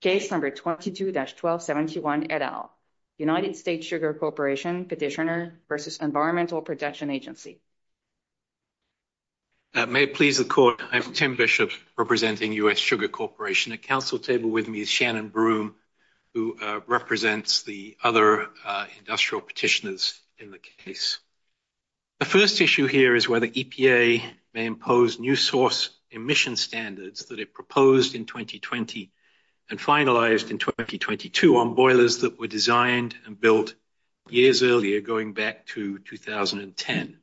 Case number 22-1271 et al. United States Sugar Corporation Petitioner versus Environmental Protection Agency. May it please the court, I'm Tim Bishops representing U.S. Sugar Corporation. At council table with me is Shannon Broom who represents the other industrial petitioners in the case. The first issue here is whether EPA may impose new source emission standards that it finalized in 2022 on boilers that were designed and built years earlier going back to 2010.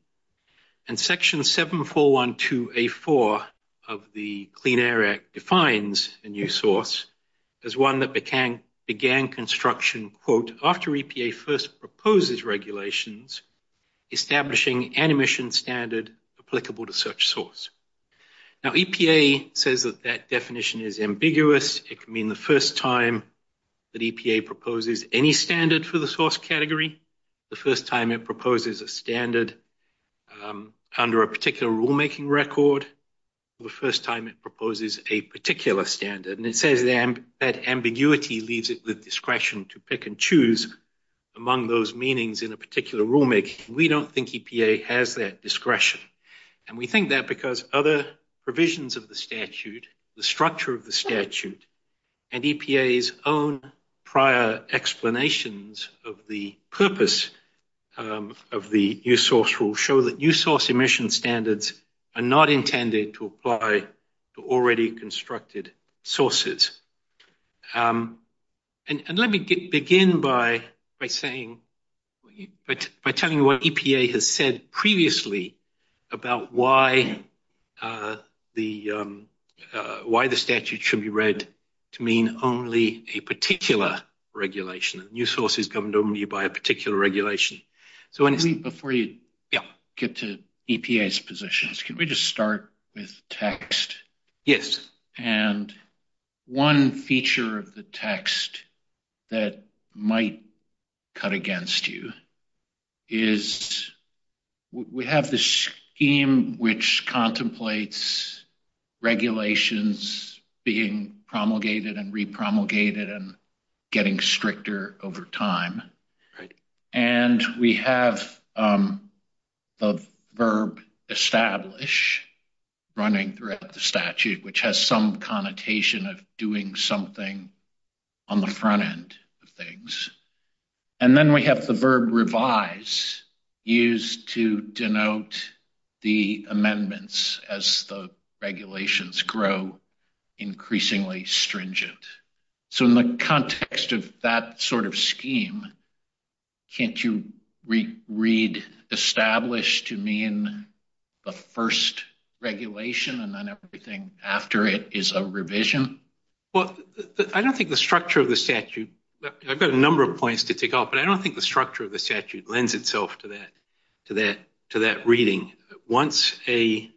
And section 7412A4 of the Clean Air Act defines a new source as one that began construction quote, after EPA first proposes regulations establishing an emission standard applicable to such source. Now EPA says that that definition is ambiguous. It could mean the first time that EPA proposes any standard for the source category, the first time it proposes a standard under a particular rulemaking record, the first time it proposes a particular standard. And it says that ambiguity leaves it with discretion to pick and choose among those meanings in a particular rulemaking. We don't think EPA has that discretion and we think that because other provisions of the statute, the structure of the statute, and EPA's own prior explanations of the purpose of the new source will show that new source emission standards are not intended to apply to already constructed sources. And let me begin by saying, by about why the why the statute should be read to mean only a particular regulation. New source is governed only by a particular regulation. So before you get to EPA's positions, can we just start with text? Yes. And one feature of the scheme which contemplates regulations being promulgated and repromulgated and getting stricter over time. And we have the verb establish running throughout the statute, which has some connotation of doing something on the front end of the statute. And then we have the verb revise, used to denote the amendments as the regulations grow increasingly stringent. So in the context of that sort of scheme, can't you read establish to mean the first regulation and then everything after it is a revision? Well, I don't think the structure of the statute, I've got a but I don't think the structure of the statute lends itself to that to that to that reading. Once a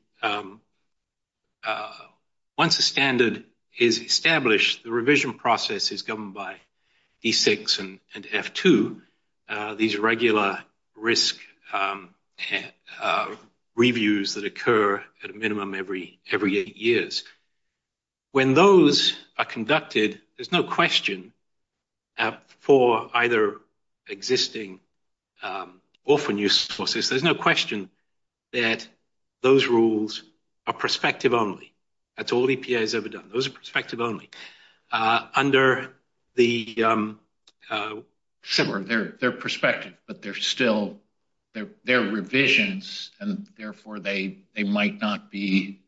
once a standard is established, the revision process is governed by E6 and F2. These are regular risk reviews that occur at a minimum every every eight years. When those are conducted, there's no question for either existing or for new sources, there's no question that those rules are perspective only. That's all EPA has ever done. Those are perspective only. Under their perspective, but they're still, they're revisions and therefore they they might not be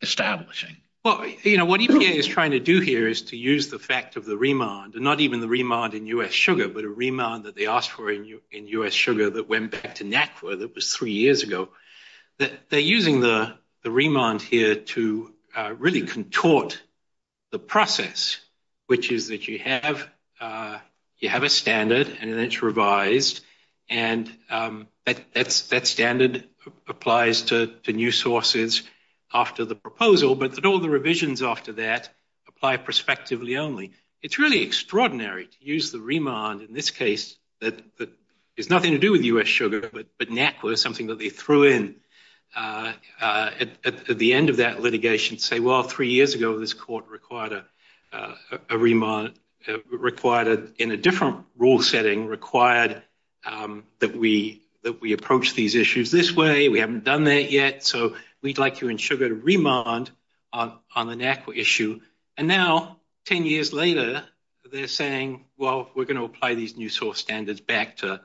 establishing. Well, you know, what EPA is doing is to use the fact of the remand, and not even the remand in U.S. sugar, but a remand that they asked for in U.S. sugar that went back to NACWA that was three years ago. They're using the remand here to really contort the process, which is that you have you have a standard and it's revised and that standard applies to new sources after the proposal, but that all the perspective only. It's really extraordinary to use the remand in this case that is nothing to do with U.S. sugar, but NACWA is something that they threw in at the end of that litigation to say, well, three years ago this court required a remand, required it in a different rule setting, required that we that we approach these issues this way, we haven't done that yet, so we'd like to ensure that a remand on the NACWA issue, and now 10 years later they're saying, well, we're going to apply these new source standards back to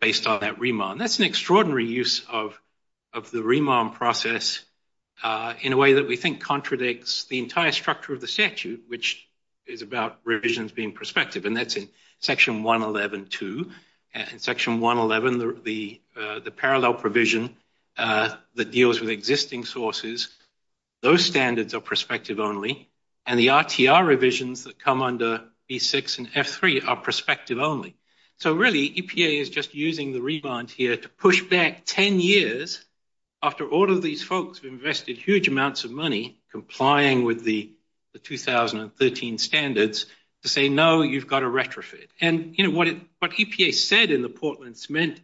based on that remand. That's an extraordinary use of the remand process in a way that we think contradicts the entire structure of the statute, which is about revisions being prospective, and that's in section 111.2. In section 111, the parallel provision that deals with perspective only, and the RTR revisions that come under B6 and F3 are perspective only. So really EPA is just using the remand here to push back 10 years after all of these folks have invested huge amounts of money complying with the 2013 standards to say, no, you've got a retrofit. And what EPA said in the Portland Mint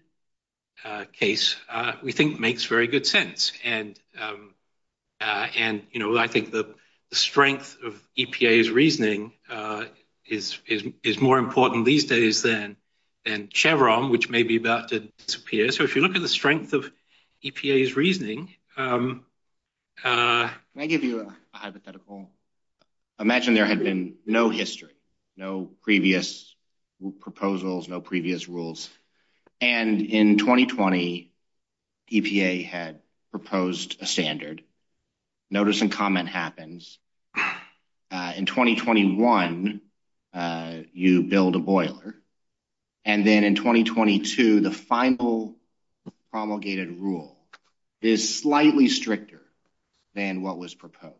case, we think makes very good sense, and I think the strength of EPA's reasoning is more important these days than Chevron, which may be about to disappear. So if you look at the strength of EPA's reasoning... Can I give you a hypothetical? Imagine there had been no history, no previous proposals, no previous rules, and in 2020 EPA had proposed a standard. Notice and comment happens. In 2021, you build a boiler, and then in 2022, the final promulgated rule is slightly stricter than what was proposed.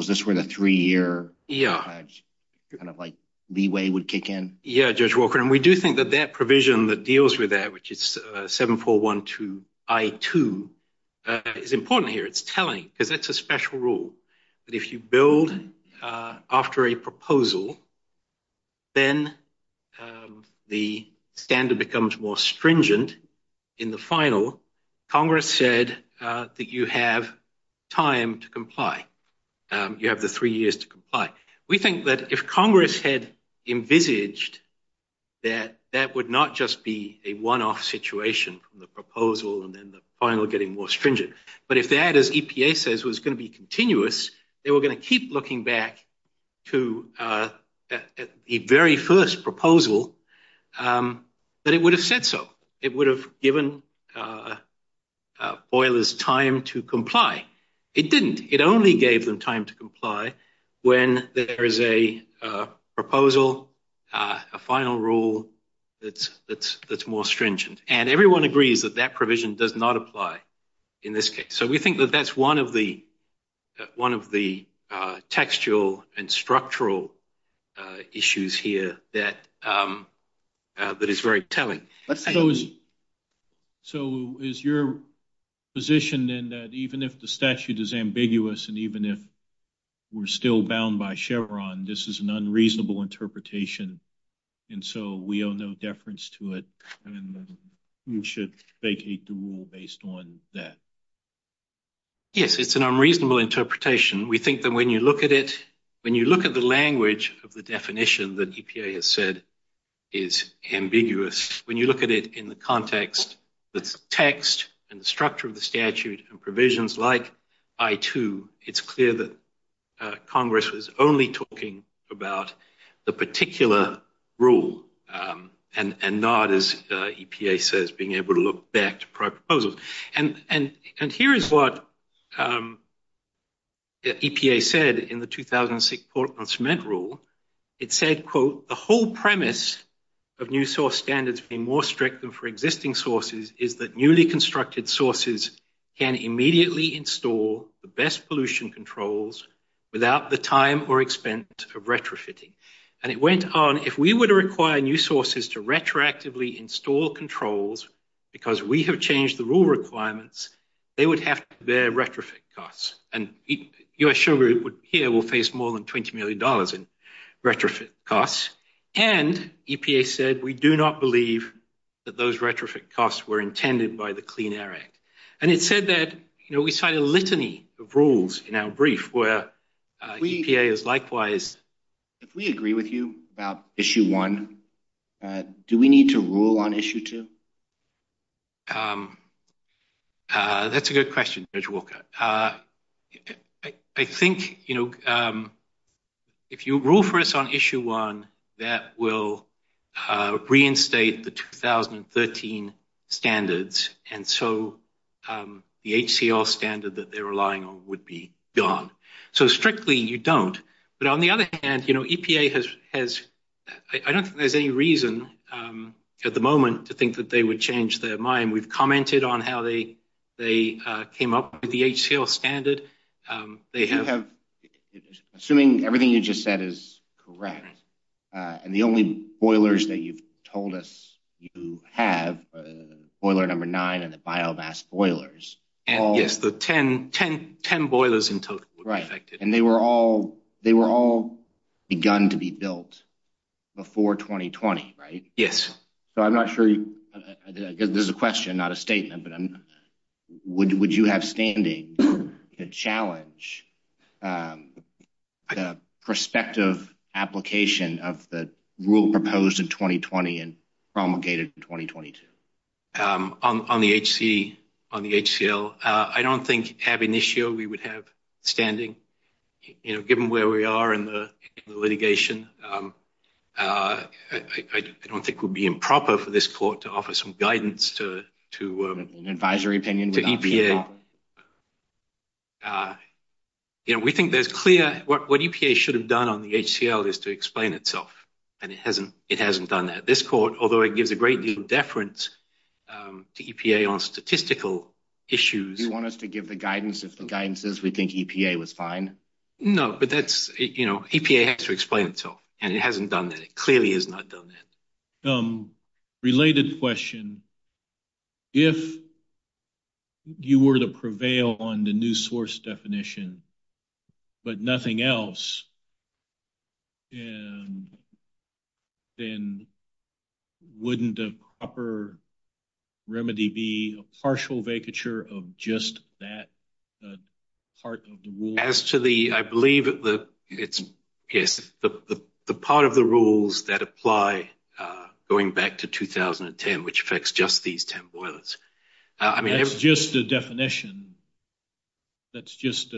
Is this where the three-year kind of leeway would kick in? Yeah, Judge Walker, and we do think that that provision that deals with that, which it's 7412I2, is important here. It's telling, because it's a special rule. If you build after a proposal, then the standard becomes more stringent in the you have the three years to comply. We think that if Congress had envisaged that that would not just be a one-off situation from the proposal, and then the final getting more stringent. But if that, as EPA says, was going to be continuous, they were going to keep looking back to the very first proposal, but it would have said so. It would have given boilers time to comply. It didn't. It only gave them time to comply when there is a proposal, a final rule that's more stringent. And everyone agrees that that provision does not apply in this case. So we think that that's one of the textual and structural issues here that is very telling. So is your position then that even if the we're still bound by Chevron, this is an unreasonable interpretation, and so we owe no deference to it, and you should vacate the rule based on that? Yes, it's an unreasonable interpretation. We think that when you look at it, when you look at the language of the definition that EPA has said is ambiguous, when you look at it in the context, the text, and the structure of the statute, and provisions like I-2, it's clear that Congress was only talking about the particular rule and not, as EPA says, being able to look back to prior proposals. And here is what the EPA said in the 2006 Port on Cement Rule. It said, quote, the whole premise of new source standards being more strict than for existing sources is that newly constructed sources can immediately install the best pollution controls without the time or expense of retrofitting. And it went on, if we were to require new sources to retroactively install controls because we have changed the rule requirements, they would have to bear retrofit costs. And you're sure here we'll face more than $20 million in retrofit costs. And EPA said, we do not believe that those retrofit costs were intended by the Clean Air Act. And it said that, you know, we cited a litany of rules in our brief where EPA is likewise... If we agree with you about Issue 1, do we need to rule on Issue 2? That's a good question, Judge Walker. I think, you know, if you rule for us on the 2013 standards and so the HCL standard that they're relying on would be gone. So strictly, you don't. But on the other hand, you know, EPA has... I don't think there's any reason at the moment to think that they would change their mind. We've commented on how they came up with the HCL standard. They have... Assuming everything you just said is correct and the only boilers that you have, Boiler No. 9 and the biovast boilers... Yes, the 10 boilers in total. Right. And they were all begun to be built before 2020, right? Yes. So I'm not sure... There's a question, not a statement, but would you have standing to challenge the prospective application of the rule proposed in 2020 and promulgated in 2022? On the HCL, I don't think, ab initio, we would have standing. You know, given where we are in the litigation, I don't think it would be improper for this court to offer some guidance to... An advisory opinion? To EPA. You know, we think that's clear. What EPA should have done on the HCL is to support, although it gives a great deal of deference to EPA on statistical issues... Do you want us to give the guidance if the guidance says we think EPA was fine? No, but that's, you know, EPA has to explain it to us, and it hasn't done that. It clearly has not done that. Related question. If you were to prevail on the new source definition, but nothing else, then wouldn't the proper remedy be a partial vacature of just that part of the rule? As to the... I believe that the part of the rules that apply going back to 2010, which affects just these 10 boilers... That's just the definition. That's just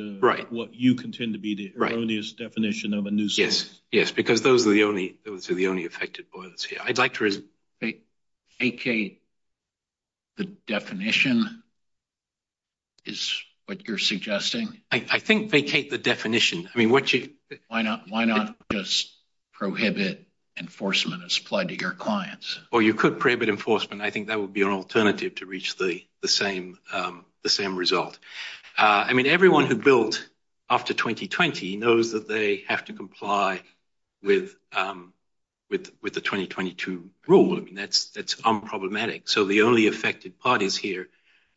what you contend to be the erroneous definition of a new source. Yes, yes, because those are the only affected boilers here. I'd like to res... Vacate the definition is what you're suggesting? I think vacate the definition. I mean, what you... Why not just prohibit enforcement as applied to your clients? Well, you could prohibit enforcement. I think that would be an alternative to reach the same result. I mean, everyone that built after 2020 knows that they have to comply with the 2022 rule. I mean, that's unproblematic. So the only affected parties here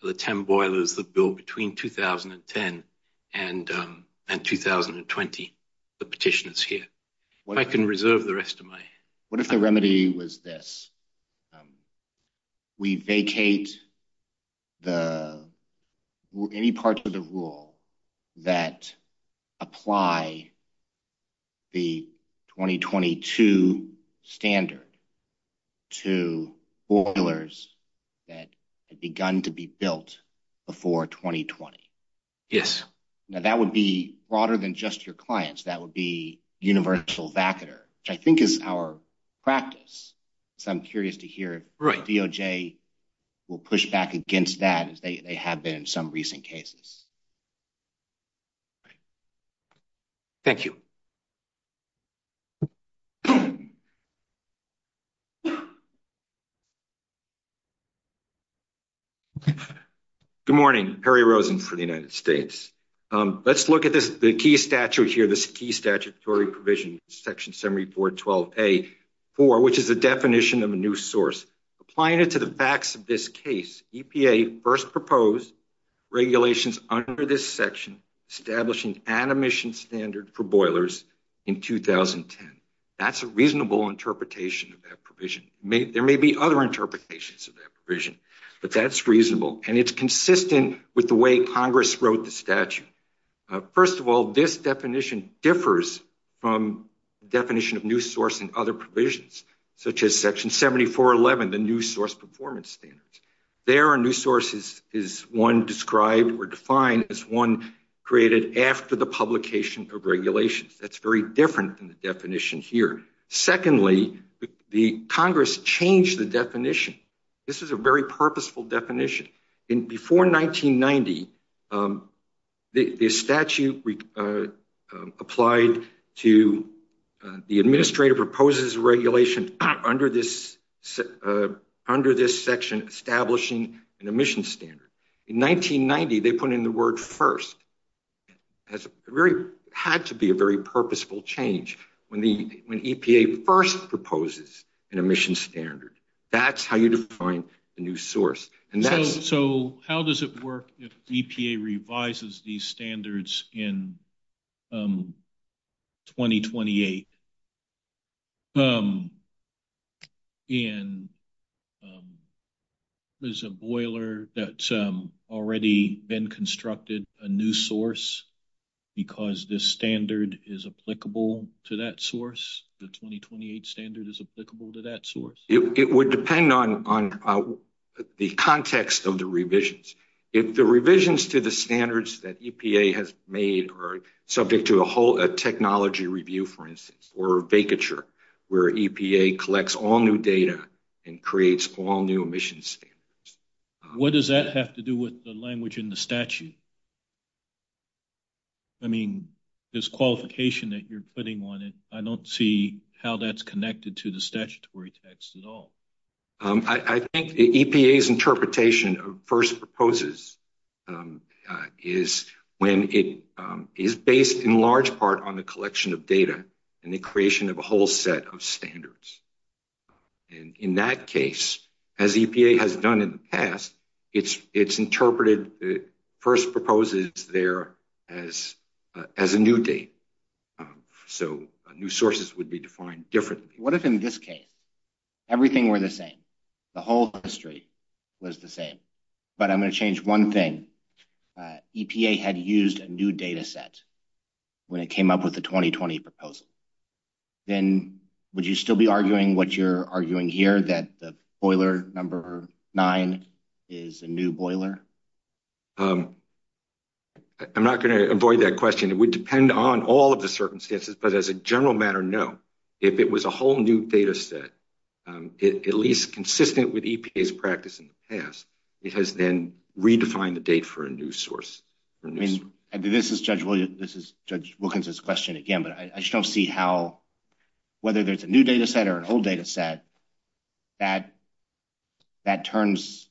are the 10 boilers that built between 2010 and 2020, the petitioners here. I can reserve the rest of my... What if the remedy was this? We vacate any parts of the rule that apply the 2022 standard to boilers that had begun to be built before 2020? Yes. Now, that would be broader than just your clients. That would be universal vacater, which I think is our practice. So I'm curious to hear if DOJ will push back against that as they have been in some recent cases. Thank you. Good morning. Perry Rosen for the United States. Let's look at the key statute here, this key statutory provision, Section 7412A.4, which is the definition of a new source. Applying it to the facts of this case, EPA first proposed regulations under this section establishing an emission standard for boilers in 2010. That's a reasonable interpretation of that provision. There may be other interpretations of that provision, but that's reasonable. And it's consistent with the way Congress wrote the statute. First of all, this definition differs from the definition of new source in other provisions, such as Section 7411, the new source performance standards. There, a new source is one described or defined as one created after the publication of regulations. That's very different than the definition here. Secondly, the Congress changed the definition. This is a very purposeful definition. Before 1990, the statute applied to the administrative proposes regulation under this section establishing an emission standard. In 1990, they put in the word first. It had to be a very purposeful change when EPA first proposes an emission standard. That's how you define a new source. So, how does it work if EPA revises these standards in 2028? There's a boiler that's already been constructed, a new source, because this standard is applicable to that source? The 2028 standard is applicable to that source? It would depend on the context of the revisions. If the revisions to the standards that EPA has made are subject to a whole technology review, for instance, or vacature, where EPA collects all new data and creates all new emissions standards. What does that have to do with the language in the statute? I mean, this qualification that you're putting on it, I don't see how that's connected to the statutory text at all. I think the EPA's interpretation of first proposes is when it is based in large part on the collection of data and the creation of a whole set of standards. In that case, as EPA has done in the past, it's interpreted first proposes there as a new date. So, new sources would be defined differently. What if in this case, everything were the same? The whole industry was the same, but I'm going to change one thing. EPA had used a new data set when it came up with the 2020 proposal. Then, would you still be arguing what you're arguing here, that boiler number nine is a new boiler? I'm not going to avoid that question. It would depend on all of the circumstances, but as a general matter, no. If it was a whole new data set, at least consistent with EPA's practice in the past, it has been redefined the date for a new source. This is Judge Wilkins' question again, but I don't see how, whether there's a new data set or an old data set, that turns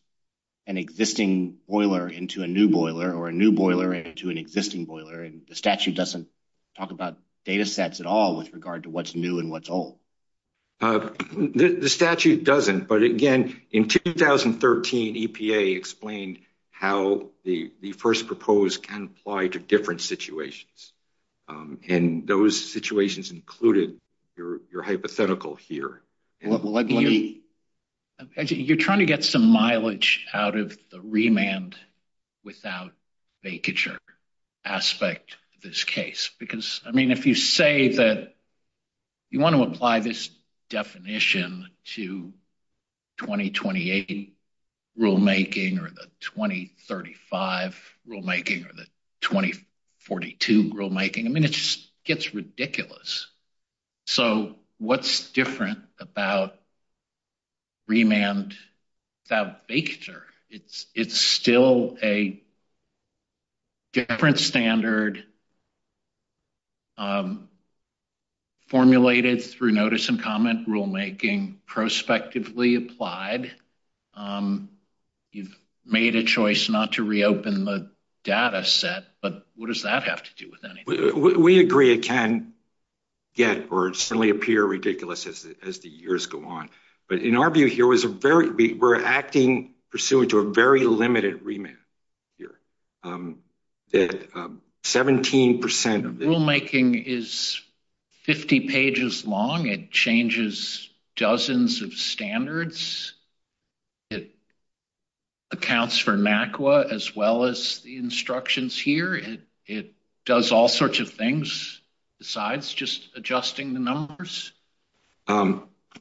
an existing boiler into a new boiler or a new boiler into an existing boiler. The statute doesn't talk about data sets at all with regard to what's new and what's old. The statute doesn't, but again, in 2013, EPA explained how the first proposed can apply to different situations, and those situations included your hypothetical here. You're trying to get some mileage out of the remand without vacature aspect of this case. If you say that you want to apply this definition to 2028 rulemaking or the 2035 rulemaking or the 2042 rulemaking, it just gets ridiculous. So, what's different about remand without vacature? It's still a different standard formulated through notice and comment rulemaking, prospectively applied. You've made a choice not to reopen the data set, but what does that have to do with anything? We agree it can get or certainly appear ridiculous as the years go on. But in our view here, we're acting pursuant to a very limited remand here. 17% of the rulemaking is 50 pages long. It changes dozens of standards. It accounts for MACWA as well as the instructions here. It does all sorts of things besides just adjusting the numbers?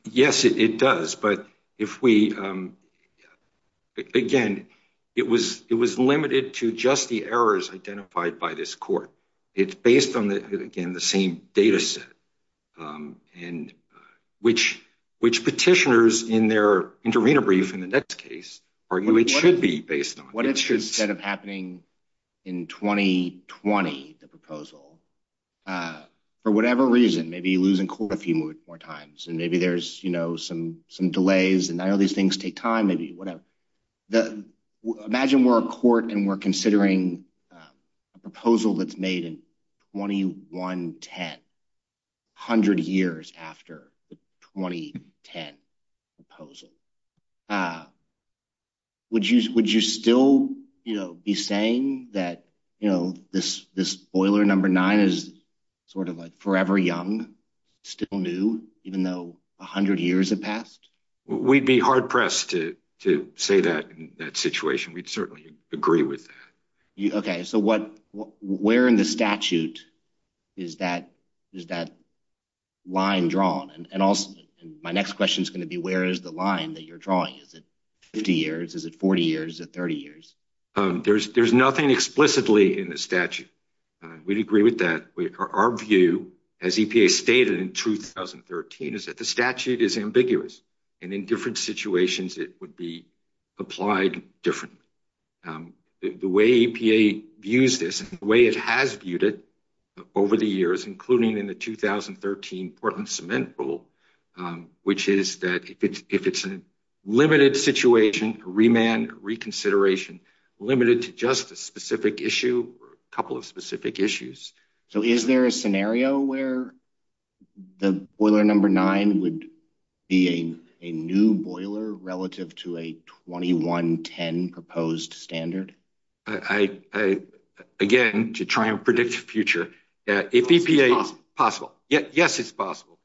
Yes, it does. But if we, again, it was limited to just the errors identified by this court. It's based on, again, the same data set, which petitioners in their interim brief in the next case argue it should be based on. What if instead of happening in 2020, the proposal, for whatever reason, maybe losing court a few more times, and maybe there's some delays, and none of these things take time, maybe whatever. Imagine we're a court and we're considering a proposal that's made in 2110, 100 years after the 2010 proposal. Would you still be saying that this boiler number nine is sort of a forever young, still new, even though 100 years have passed? We'd be hard-pressed to say that in that situation. We'd certainly agree with that. Okay. So where in the statute is that line drawn? And my next question is going to be, where is the line that you're drawing? Is it 50 years? Is it 40 years? Is it 30 years? There's nothing explicitly in the statute. We'd agree with that. Our view, as EPA stated in 2013, is that the statute is ambiguous, and in different situations it would be applied differently. The way EPA views this, the way it has viewed it over the years, including in the 2013 Portland Cement Rule, which is that if it's a limited situation for remand, reconsideration, limited to just a specific issue or a couple of specific issues. So is there a scenario where the boiler number nine would be a new boiler relative to a 2110 proposed standard? Again, to try and predict the future, if EPA is possible. Yes, it's possible.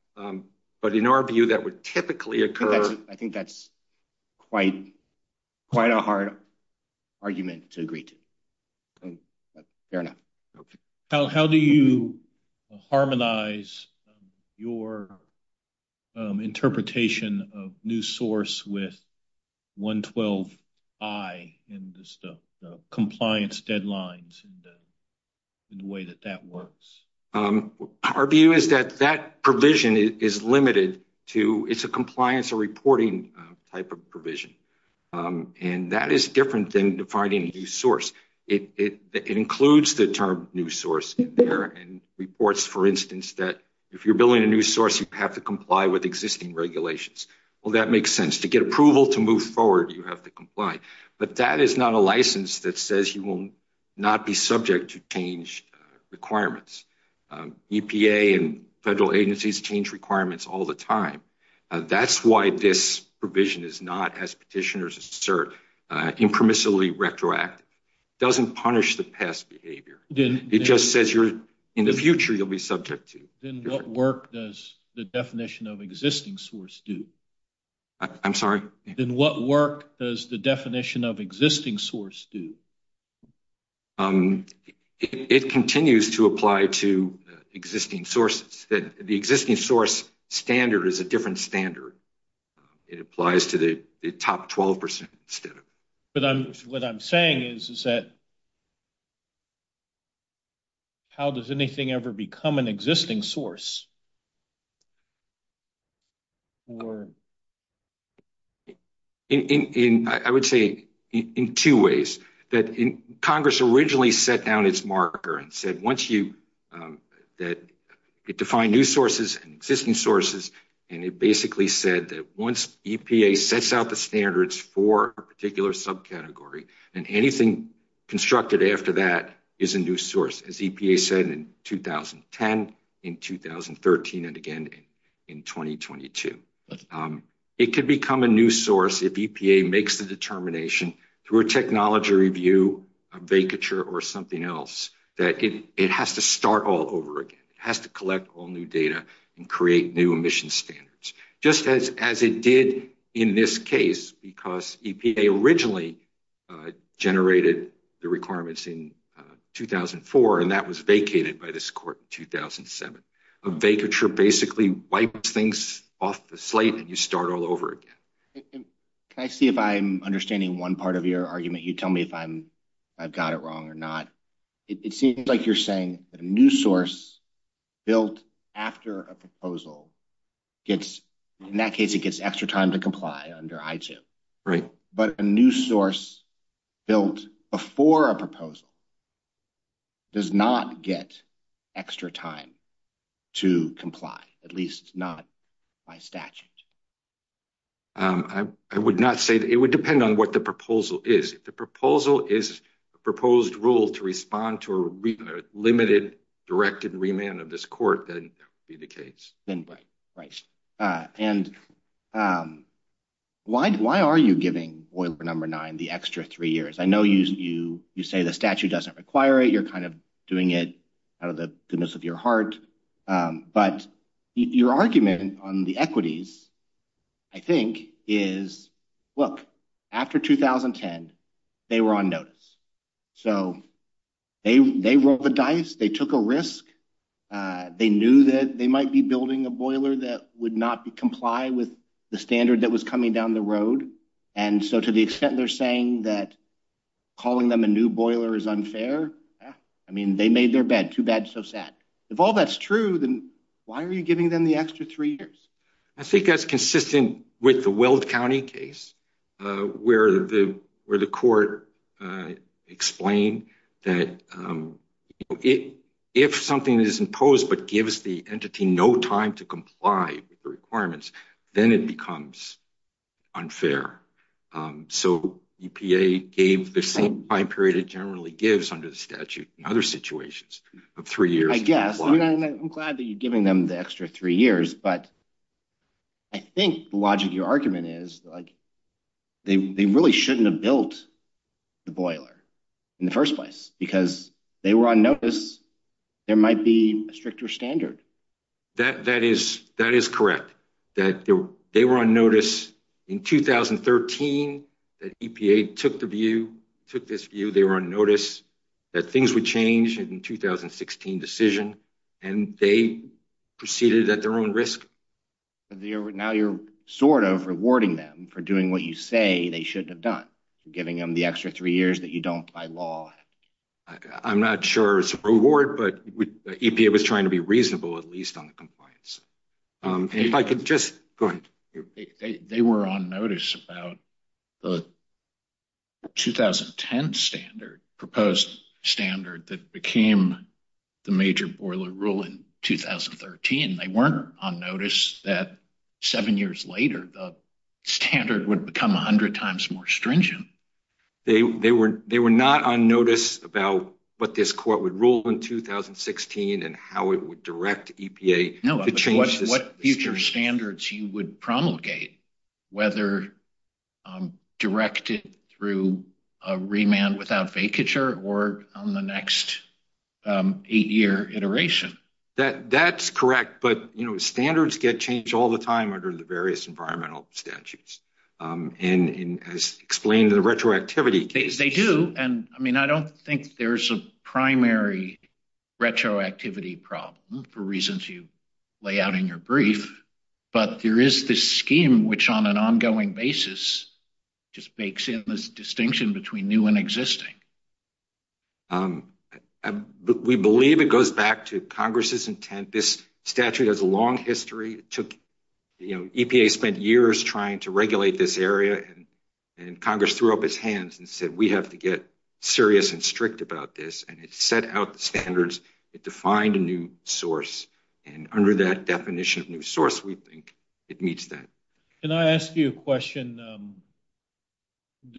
But in our view, that would typically occur. I think that's quite a hard argument to agree to. Fair enough. How do you harmonize your interpretation of new source with 112I and the compliance deadlines and the way that that works? Our view is that that provision is limited to, it's a compliance or reporting type of provision. And that is different than defining a new source. It includes the term new source in there and reports, for instance, that if you're building a new source, you have to comply with existing regulations. Well, that makes sense. To get approval to move forward, you have to comply. But that is not a license that says you will not be subject to change requirements. EPA and petitioners assert impermissibly retroactive. It doesn't punish the past behavior. It just says in the future, you'll be subject to it. Then what work does the definition of existing source do? I'm sorry? Then what work does the definition of existing source do? It continues to apply to existing source. The existing source standard is a different standard. It applies to the top 12% standard. But what I'm saying is that how does anything ever become an existing source? I would say in two ways. Congress originally set down its marker and said once you, that it defined new sources and existing sources, and it basically said that once EPA sets out the standards for a particular subcategory, then anything constructed after that is a new source, as EPA said in 2010, in 2013, and again in 2022. It could become a new source if EPA makes the start all over again. It has to collect all new data and create new emission standards, just as it did in this case, because EPA originally generated the requirements in 2004, and that was vacated by this court in 2007. A vacature basically wipes things off the slate and you start all over again. I see if I'm understanding one part of your argument. You tell me if I've got it wrong or not. It seems like you're saying a new source built after a proposal gets, in that case, it gets extra time to comply under I-2. But a new source built before a proposal does not get extra time to comply, at least not by statute. I would not say that. It would depend on what the proposal is. The proposal is a proposed rule to respond to a limited directed remand of this court, that would be the case. Right. Why are you giving oil for number nine the extra three years? I know you say the statute doesn't require it. You're doing it out of the goodness of your heart. But your argument on the they rolled the dice. They took a risk. They knew that they might be building a boiler that would not comply with the standard that was coming down the road. And so to the extent they're saying that calling them a new boiler is unfair, I mean, they made their bed. Too bad, so sad. If all that's true, then why are you giving them the extra three years? I think that's consistent with the Weld County case, where the court explained that if something is imposed but gives the entity no time to comply with the requirements, then it becomes unfair. So EPA gave the same time period it generally gives under the statute in other situations of three years. I'm glad that you're giving them the extra three years, but I think the logic of your argument is they really shouldn't have built the boiler in the first place because they were on notice there might be a stricter standard. That is correct. That they were on notice in 2013 that EPA took the view, took this view. They were on notice that things would change in the 2016 decision, and they proceeded at their own risk. Now you're sort of rewarding them for doing what you say they shouldn't have done, giving them the extra three years that you don't by law. I'm not sure it's a reward, but EPA was trying to be reasonable, at least on the compliance. If I could just, go ahead. They were on notice about the 2010 standard, proposed standard that became the major boiler rule in 2013. They weren't on notice that seven years later, the standard would become 100 times more stringent. They were not on notice about what this court would rule in 2016 and how it would direct EPA to change this. What future standards you would promulgate, whether directed through a remand without vacature or on the next eight-year iteration? That's correct, but standards get changed all the time under the various environmental statutes, and as explained in the retroactivity case. They do. I don't think there's a primary retroactivity problem, for reasons you lay out in your brief, but there is this scheme which on an ongoing basis just makes it a distinction between new and existing. We believe it goes back to Congress's intent. This statute has a long history. EPA spent years trying to regulate this area, and Congress threw up its hands and said, we have to get serious and strict about this, and it set out standards. It defined a new source, and under that definition of new source, we think it meets that. Can I ask you a question?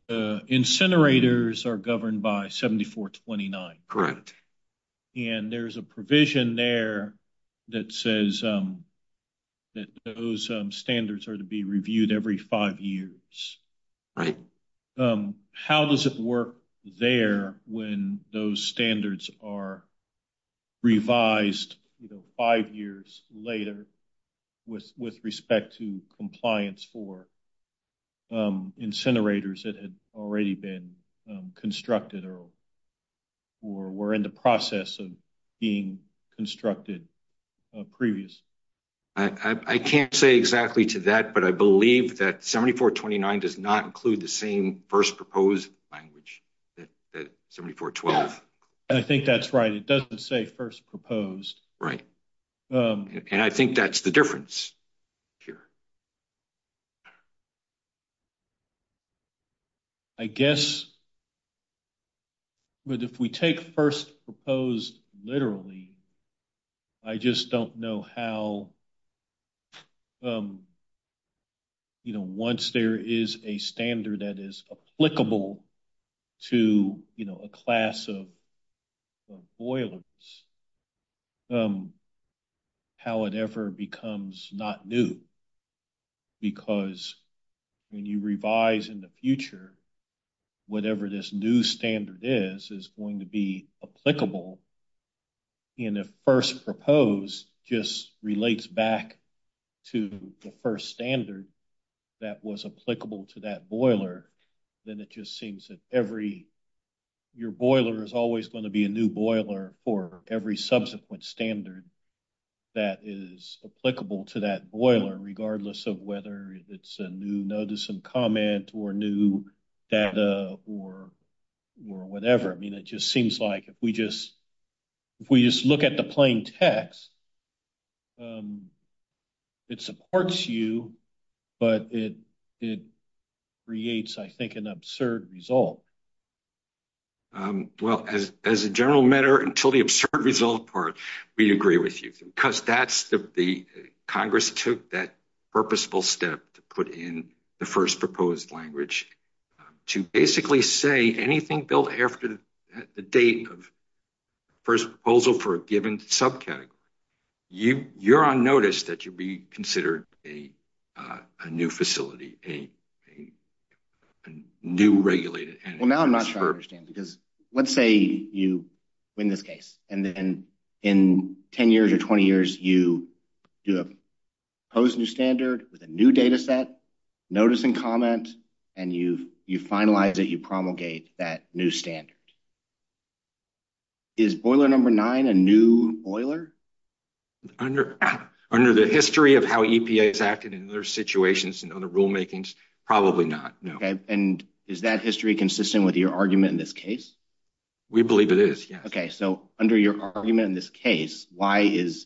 Incinerators are governed by 7429. Correct. And there's a provision there that says that those standards are to be reviewed every five years. Right. How does it work there when those standards are revised five years later with respect to compliance for incinerators that had already been constructed or were in the process of being constructed previous? I can't say exactly to that, but I believe that 7429 does not include the same first proposed language as 7412. I think that's right. It doesn't say first proposed. Right. And I think that's the difference here. I guess if we take first proposed literally, I just don't know how, you know, once there is a standard that is applicable to, you know, a class of boilers, how it ever becomes not new, because when you revise in the future, whatever this new standard is, is going to be applicable, and if first proposed just relates back to the first standard that was applicable to that boiler, then it just seems that every, your boiler is always going to be a new boiler for every subsequent standard that is applicable to that boiler, regardless of whether it's a new notice and comment or new data or whatever. I mean, it just seems like if we just look at the plain text, it supports you, but it creates, I think, an absurd result. Well, as a general matter, until the absurd result part, we agree with you, because that's the, Congress took that purposeful step to put in the first proposed language to basically say anything built after the date of the first proposal for a given subject, you're on notice that you'd be considered a new facility, a new regulated entity. Well, now I'm not sure I understand, because let's say you win this case, and then in 10 years or 20 years, you do a proposed new standard with a new data set, notice and comment, and you finalize it, you promulgate that new standard. Is boiler number nine a new boiler? Under the history of how EPA has acted in other situations and other rulemakings, probably not, no. And is that history consistent with your argument in this case? We believe it is, yes. Okay, so under your argument in this case, why is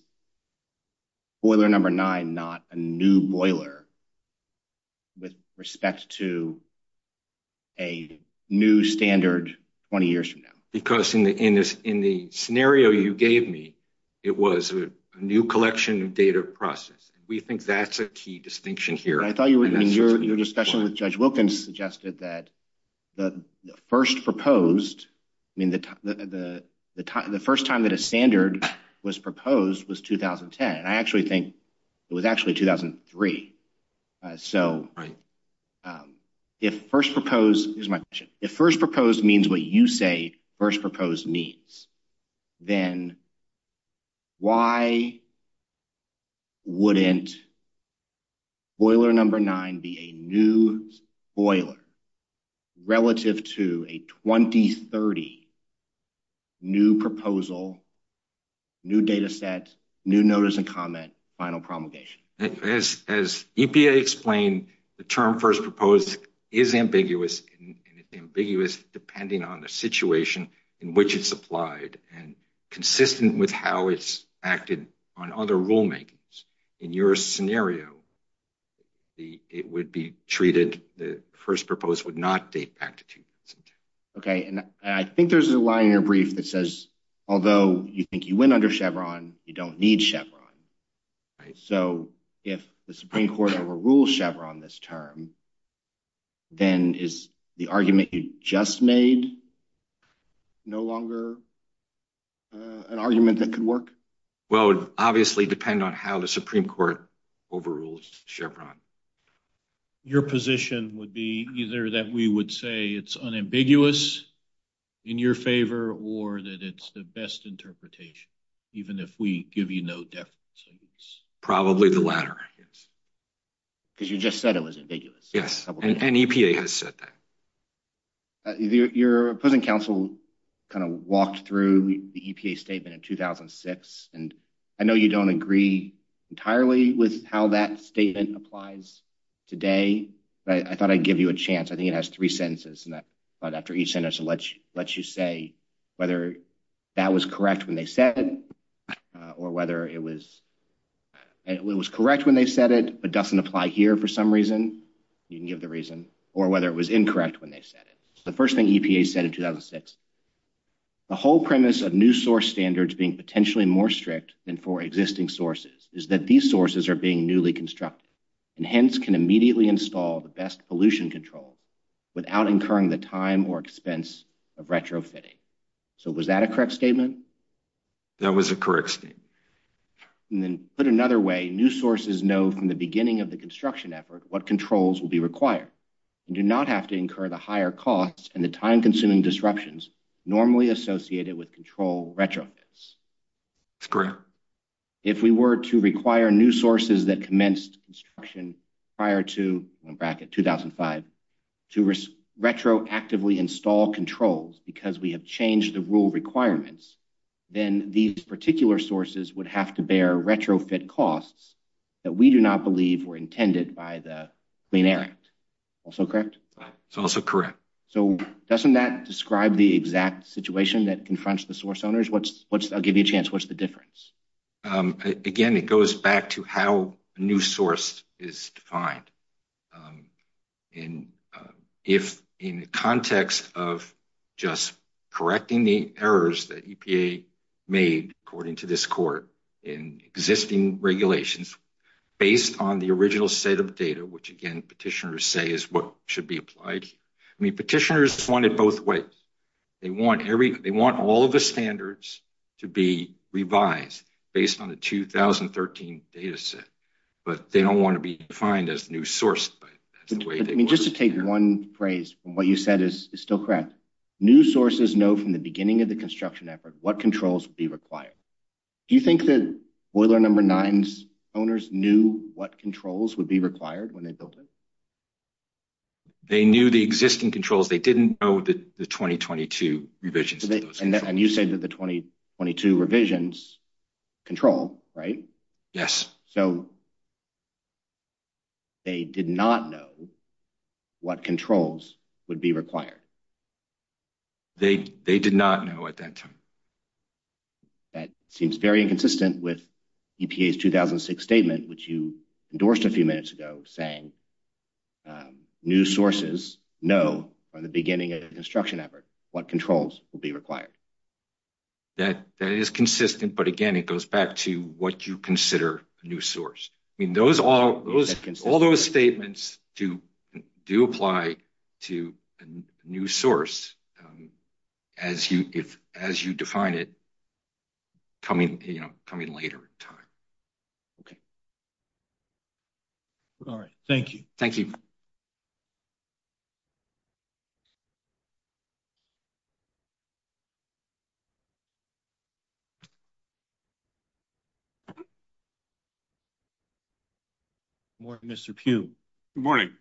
boiler number nine not a new boiler with respect to a new standard 20 years from now? Because in the scenario you gave me, it was a new collection of data process. We think that's a key distinction here. I thought your discussion with Judge Wilkins suggested that the first proposed, I mean, the first time that a standard was proposed was 2010. I actually think it was actually 2003. So if first proposed, here's my question, if first proposed means what you say means, then why wouldn't boiler number nine be a new boiler relative to a 2030 new proposal, new data set, new notice and comment, final promulgation? As EPA explained, the term first proposed is ambiguous and it's ambiguous depending on the situation in which it's applied and consistent with how it's acted on other rulemakings. In your scenario, it would be treated, the first proposed would not date back to 2010. Okay, and I think there's a line in your brief that says, although you think you went under Chevron, you don't need Chevron. Right, so if the Supreme Court overrules Chevron this term, then is the argument you just made no longer an argument that could work? Well, it would obviously depend on how the Supreme Court overrules Chevron. Your position would be either that we would say it's unambiguous in your favor, or that it's the best interpretation, even if we give you no definite evidence. Probably the latter, because you just said it was ambiguous. Yes, and EPA has said that. Your opposing counsel kind of walked through the EPA statement in 2006, and I know you don't agree entirely with how that statement applies today, but I thought I'd give you a chance. It has three sentences, and after each sentence, it lets you say whether that was correct when they said it, or whether it was correct when they said it, but doesn't apply here for some reason. You can give the reason, or whether it was incorrect when they said it. The first thing EPA said in 2006, the whole premise of new source standards being potentially more strict than for existing sources is that these sources are being newly constructed, and hence can immediately install the best pollution control without incurring the time or expense of retrofitting. So, was that a correct statement? That was a correct statement. And then, put another way, new sources know from the beginning of the construction effort what controls will be required, and do not have to incur the higher costs and the time-consuming disruptions normally associated with control retrofits. That's correct. If we were to require new sources that commenced construction prior to, in bracket, 2005, to retroactively install controls because we have changed the rule requirements, then these particular sources would have to bear retrofit costs that we do not believe were intended by the Clean Air Act. Also correct? It's also correct. So, doesn't that describe the exact situation that confronts the source owners? I'll give you a chance. What's the difference? Again, it goes back to how a new source is defined. And if, in the context of just correcting the errors that EPA made, according to this court, in existing regulations, based on the original set of data, which, again, petitioners say is what should be applied, I mean, petitioners wanted both ways. They want all of the standards to be revised based on the 2013 data set, but they don't want to be defined as new sources. Just to take one phrase from what you said is still correct. New sources know from the beginning of the construction effort what controls would be required. Do you think that Boiler No. 9 owners knew what controls would be required when they built it? They knew the existing controls. They didn't know the 2022 revisions. And you said that the 2022 revisions control, right? Yes. So, they did not know what controls would be required. They did not know at that time. That seems very inconsistent with EPA's 2006 statement, which you endorsed a few minutes ago, saying new sources know from the beginning of the construction effort what controls will be required. That is consistent, but again, it goes back to what you consider a new source. I mean, all those statements do apply to a new source as you define it coming later in time. Okay. All right. Thank you. Thank you. Good morning, Mr. Pugh. Good morning.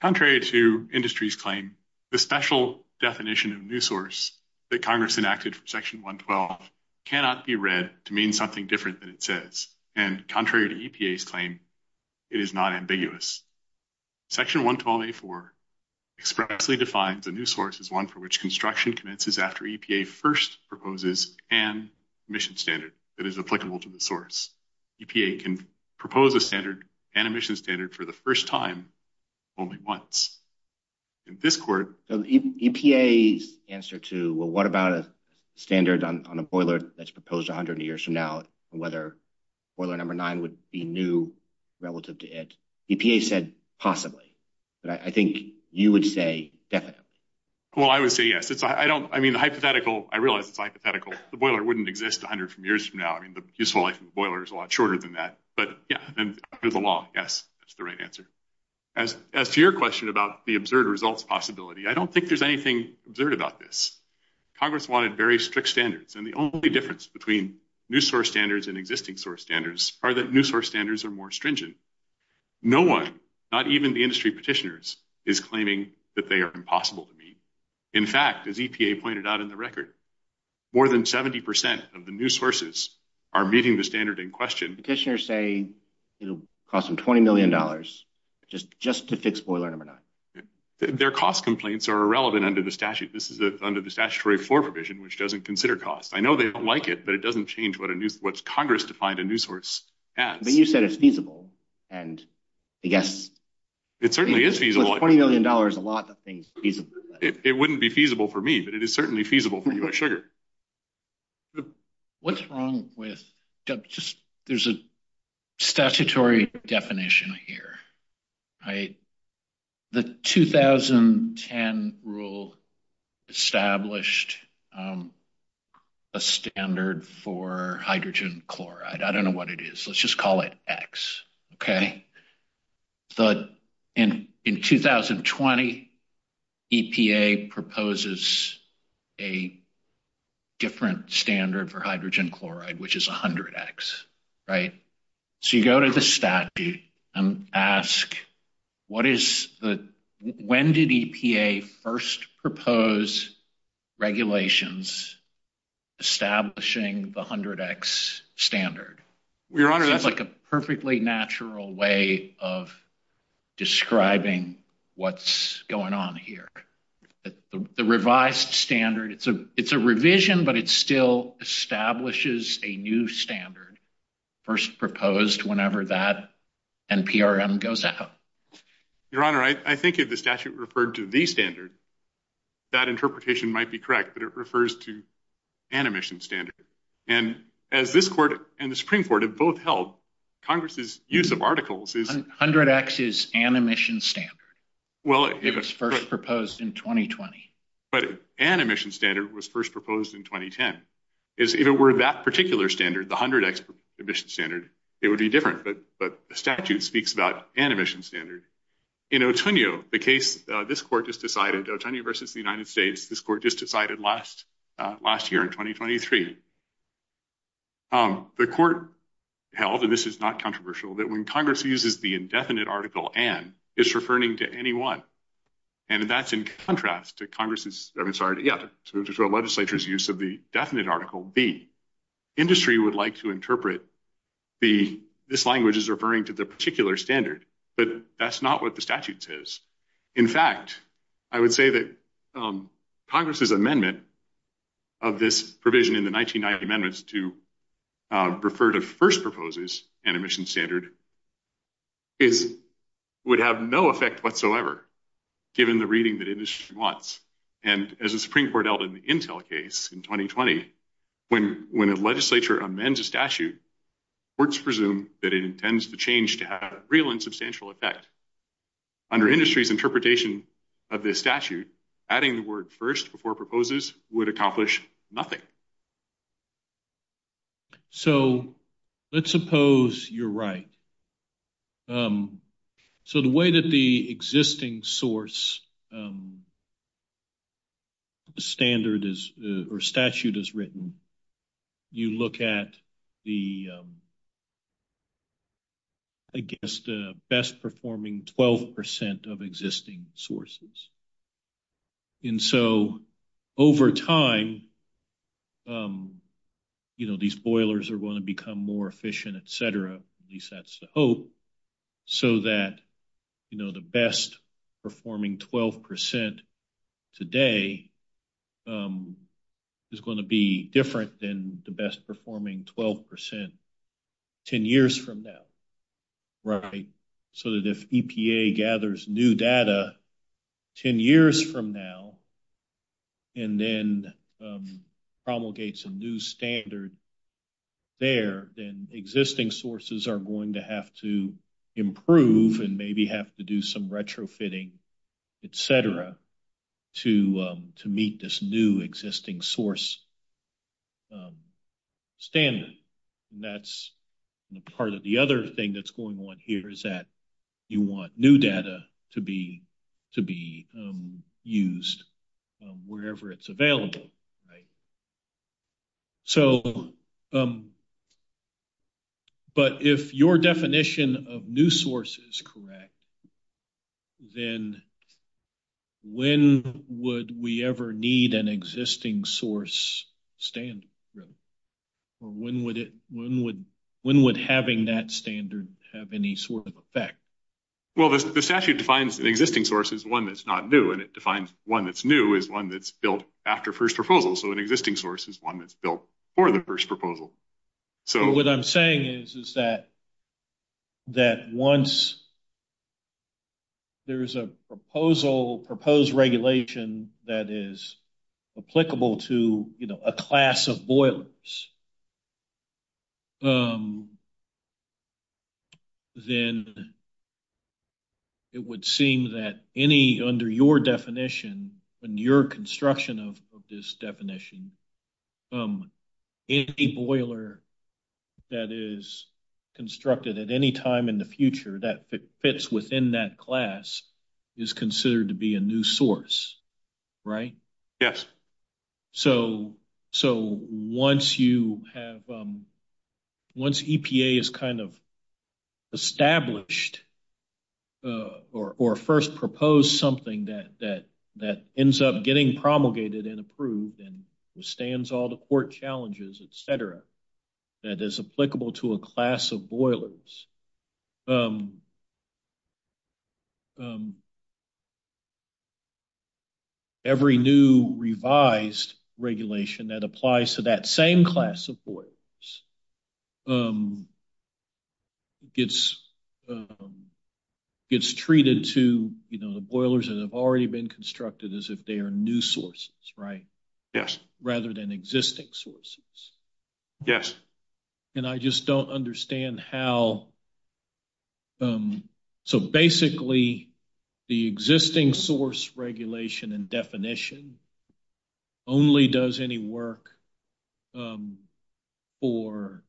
Contrary to industry's claim, the special definition of new source that Congress enacted for Section 112 cannot be read to mean something different than it says. And contrary to EPA's claim, it is not ambiguous. Section 112.84 expressly defines a new source as one for which construction commences after EPA first proposes an emission standard that is applicable to the source. EPA can propose a standard and emission standard for the first time only once. In this court... So EPA's answer to, well, what about a standard on a boiler that's proposed 100 years from now, whether boiler number nine would be new relative to it? EPA said possibly. But I think you would say definitely. Well, I would say yes. It's, I don't, I mean, the hypothetical, I realize it's hypothetical. The boiler wouldn't exist 100 years from now. I mean, the useful life of the boiler is a lot shorter than that. But yeah, there's a law. Yes, that's the right answer. As to your question about the absurd results possibility, I don't think there's anything absurd about this. Congress wanted very strict standards. And the only difference between new source standards and existing source standards are that new source standards are more stringent. No one, not even the industry petitioners, is claiming that they are impossible to meet. In fact, as EPA pointed out in the record, more than 70% of the new sources are meeting the standard in question. Petitioners say it'll cost them $20 million just to fix boiler number nine. Their cost complaints are irrelevant under the statute. This is under the statutory floor provision, which doesn't consider cost. I know they don't like it, but it doesn't change what a new, what's Congress defined a new source at. But you said it's feasible. And I guess. It certainly is feasible. $20 million, a lot of things feasible. It wouldn't be feasible for me, but it is certainly feasible for you, Sugar. What's wrong with, there's a statutory definition here. The 2010 rule established a standard for hydrogen chloride. I don't know what it is. Let's just call it X, okay? But in 2020, EPA proposes a different standard for hydrogen chloride, which is 100X, right? So you go to the statute and ask, when did EPA first propose regulations establishing the 100X standard? That's like a perfectly natural way of describing what's going on here. The revised standard, it's a revision, but it still establishes a new standard first proposed whenever that NPRM goes out. Your Honor, I think if the statute referred to the standard, that interpretation might be correct, but it refers to an emission standard. And as this court and the Supreme Court have both held, Congress's use of articles is- 100X is an emission standard. It was first proposed in 2020. But an emission standard was first proposed in 2010. If it were that particular standard, the 100X emission standard, it would be different, but the statute speaks about an emission standard. In Otonio, the case, this court just decided, Otonio versus the United States, this court just decided last year in 2023. The court held, and this is not controversial, that when Congress uses the indefinite article N, it's referring to any one. And that's in contrast to Congress's, I'm sorry, yeah, to the legislature's use of the definite article B. Industry would like to interpret the, this language is referring to the particular standard, but that's not what the statute says. In fact, I would say that Congress's amendment of this provision in the 1990 amendments to refer to first proposes an emission standard, it would have no effect whatsoever, given the reading that industry wants. And as the Supreme Court held in the Intel case in 2020, when a legislature amends statute, courts presume that it intends the change to have a real and substantial effect. Under industry's interpretation of this statute, adding the word first before proposes would accomplish nothing. So, let's suppose you're right. So, the way that the existing source standard is, or statute is written, you look at the, I guess, the best performing 12% of existing sources. And so, over time, you know, these boilers are going to become more efficient, et cetera, at least that's the hope, so that, you know, the best performing 12% today is going to be different than the best performing 12% 10 years from now, right? So, that if EPA gathers new data 10 years from now, and then promulgates a new standard there, then existing sources are going to have to improve and maybe have to do some retrofitting, et cetera, to meet this new existing source standard. That's part of the other thing that's going on here is that you want new data to be used wherever it's available, right? So, but if your definition of new source is correct, then when would we ever need an existing source standard, really? Or when would having that standard have any sort of effect? Well, the statute defines the existing source as one that's not new, and it defines one that's new as one that's built after first proposal. So, an existing source is one that's built for the first proposal. So, what I'm saying is that once there's a proposed regulation that is applicable to, you know, a class of boilers, then it would seem that any under your definition and your construction of this definition, any boiler that is constructed at any time in the future that fits within that class is considered to be a new source, right? Yes. So, once you have, once EPA has kind of established or first proposed something that ends up getting promulgated and approved and withstands all the court challenges, et cetera, that is applicable to a class of boilers, every new revised regulation that applies to that same class of boilers gets treated to, you know, the boilers that have already been constructed as if they are new sources, right? Yes. Rather than existing sources. Yes. And I just don't understand how, so basically the existing source regulation and definition only does any work for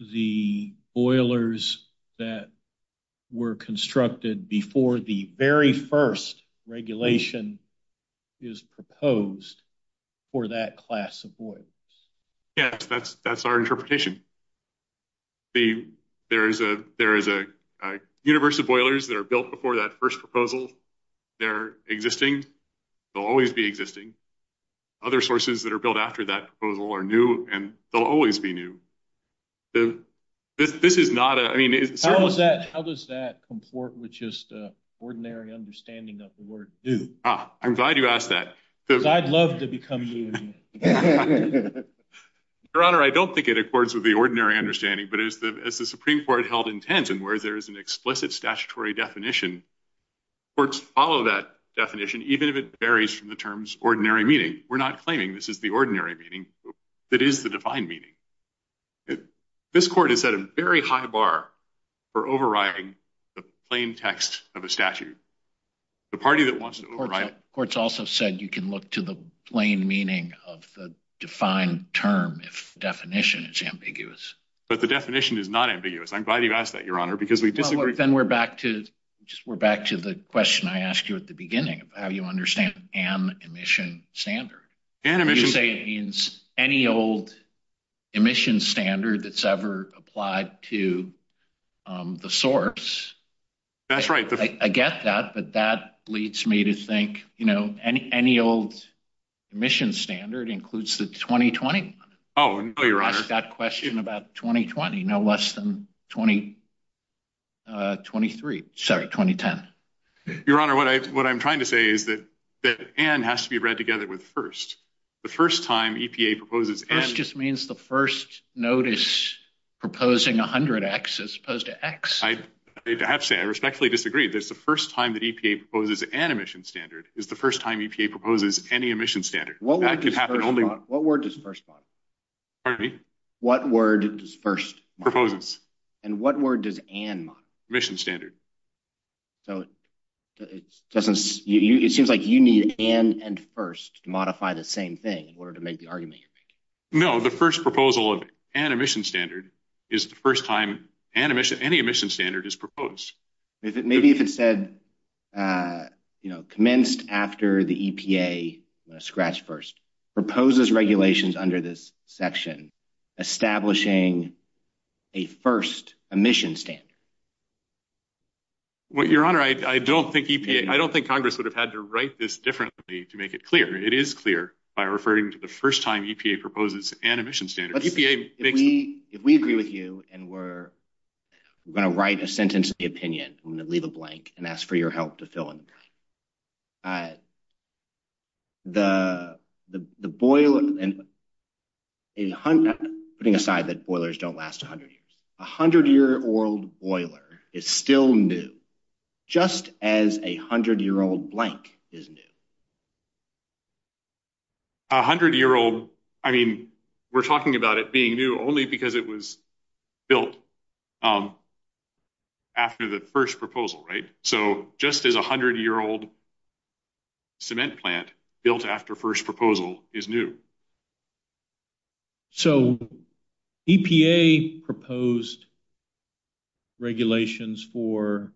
the boilers that were constructed before the very first regulation is proposed for that class of boilers. Yes, that's our interpretation. There is a universe of boilers that are built before that first proposal. They're existing. They'll always be existing. Other sources that are built after that proposal are new and they'll always be new. This is not a, I mean, How does that comport with just ordinary understanding of the word new? Ah, I'm glad you asked that. Because I'd love to become new. Your Honor, I don't think it accords with the ordinary understanding, but as the Supreme Court held in Tansen, where there is an explicit statutory definition, courts follow that definition, even if it varies from the terms ordinary meaning. We're not claiming this is the ordinary meaning. It is the defined meaning. This court is at a very high bar for overriding the plain text of a statute. The party that wants to override it. It's also said you can look to the plain meaning of the defined term, if the definition is ambiguous. But the definition is not ambiguous. I'm glad you asked that, Your Honor, because we disagree. Then we're back to the question I asked you at the beginning, how you understand an emission standard. Any old emission standard that's ever applied to the source. That's right. I get that. But that leads me to think, you know, any old emission standard includes the 2020 one. Oh, no, Your Honor. That question about 2020, no less than 20, uh, 23. Sorry, 2010. Your Honor, what I'm trying to say is that N has to be read together with first. The first time EPA proposes N. This just means the first notice proposing 100X as opposed to X. Actually, I respectfully disagree. That's the first time that EPA proposes an emission standard is the first time EPA proposes any emission standard. What word does first modify? Pardon me? What word does first modify? Proposals. And what word does N modify? Emission standard. So it doesn't, it seems like you need N and first to modify the same thing in order to make the argument. No, the first proposal of an emission standard is the first time an emission, any emission standard is proposed. Maybe if it said, uh, you know, commenced after the EPA, I'm going to scratch first, proposes regulations under this section, establishing a first emission standard. Well, Your Honor, I don't think EPA, I don't think Congress would have had to write this differently to make it clear. It is clear by referring to the first time EPA proposes an emission standard. If we, if we agree with you and we're going to write a sentence in the opinion, I'm going to leave a blank and ask for your help to fill in. The, the, the boiler and putting aside that boilers don't last a hundred years, a hundred year old boiler is still new, just as a hundred year old blank is new. A hundred year old, I mean, we're talking about it being new only because it was built after the first proposal, right? So just as a hundred year old cement plant built after first proposal is new. So EPA proposed regulations for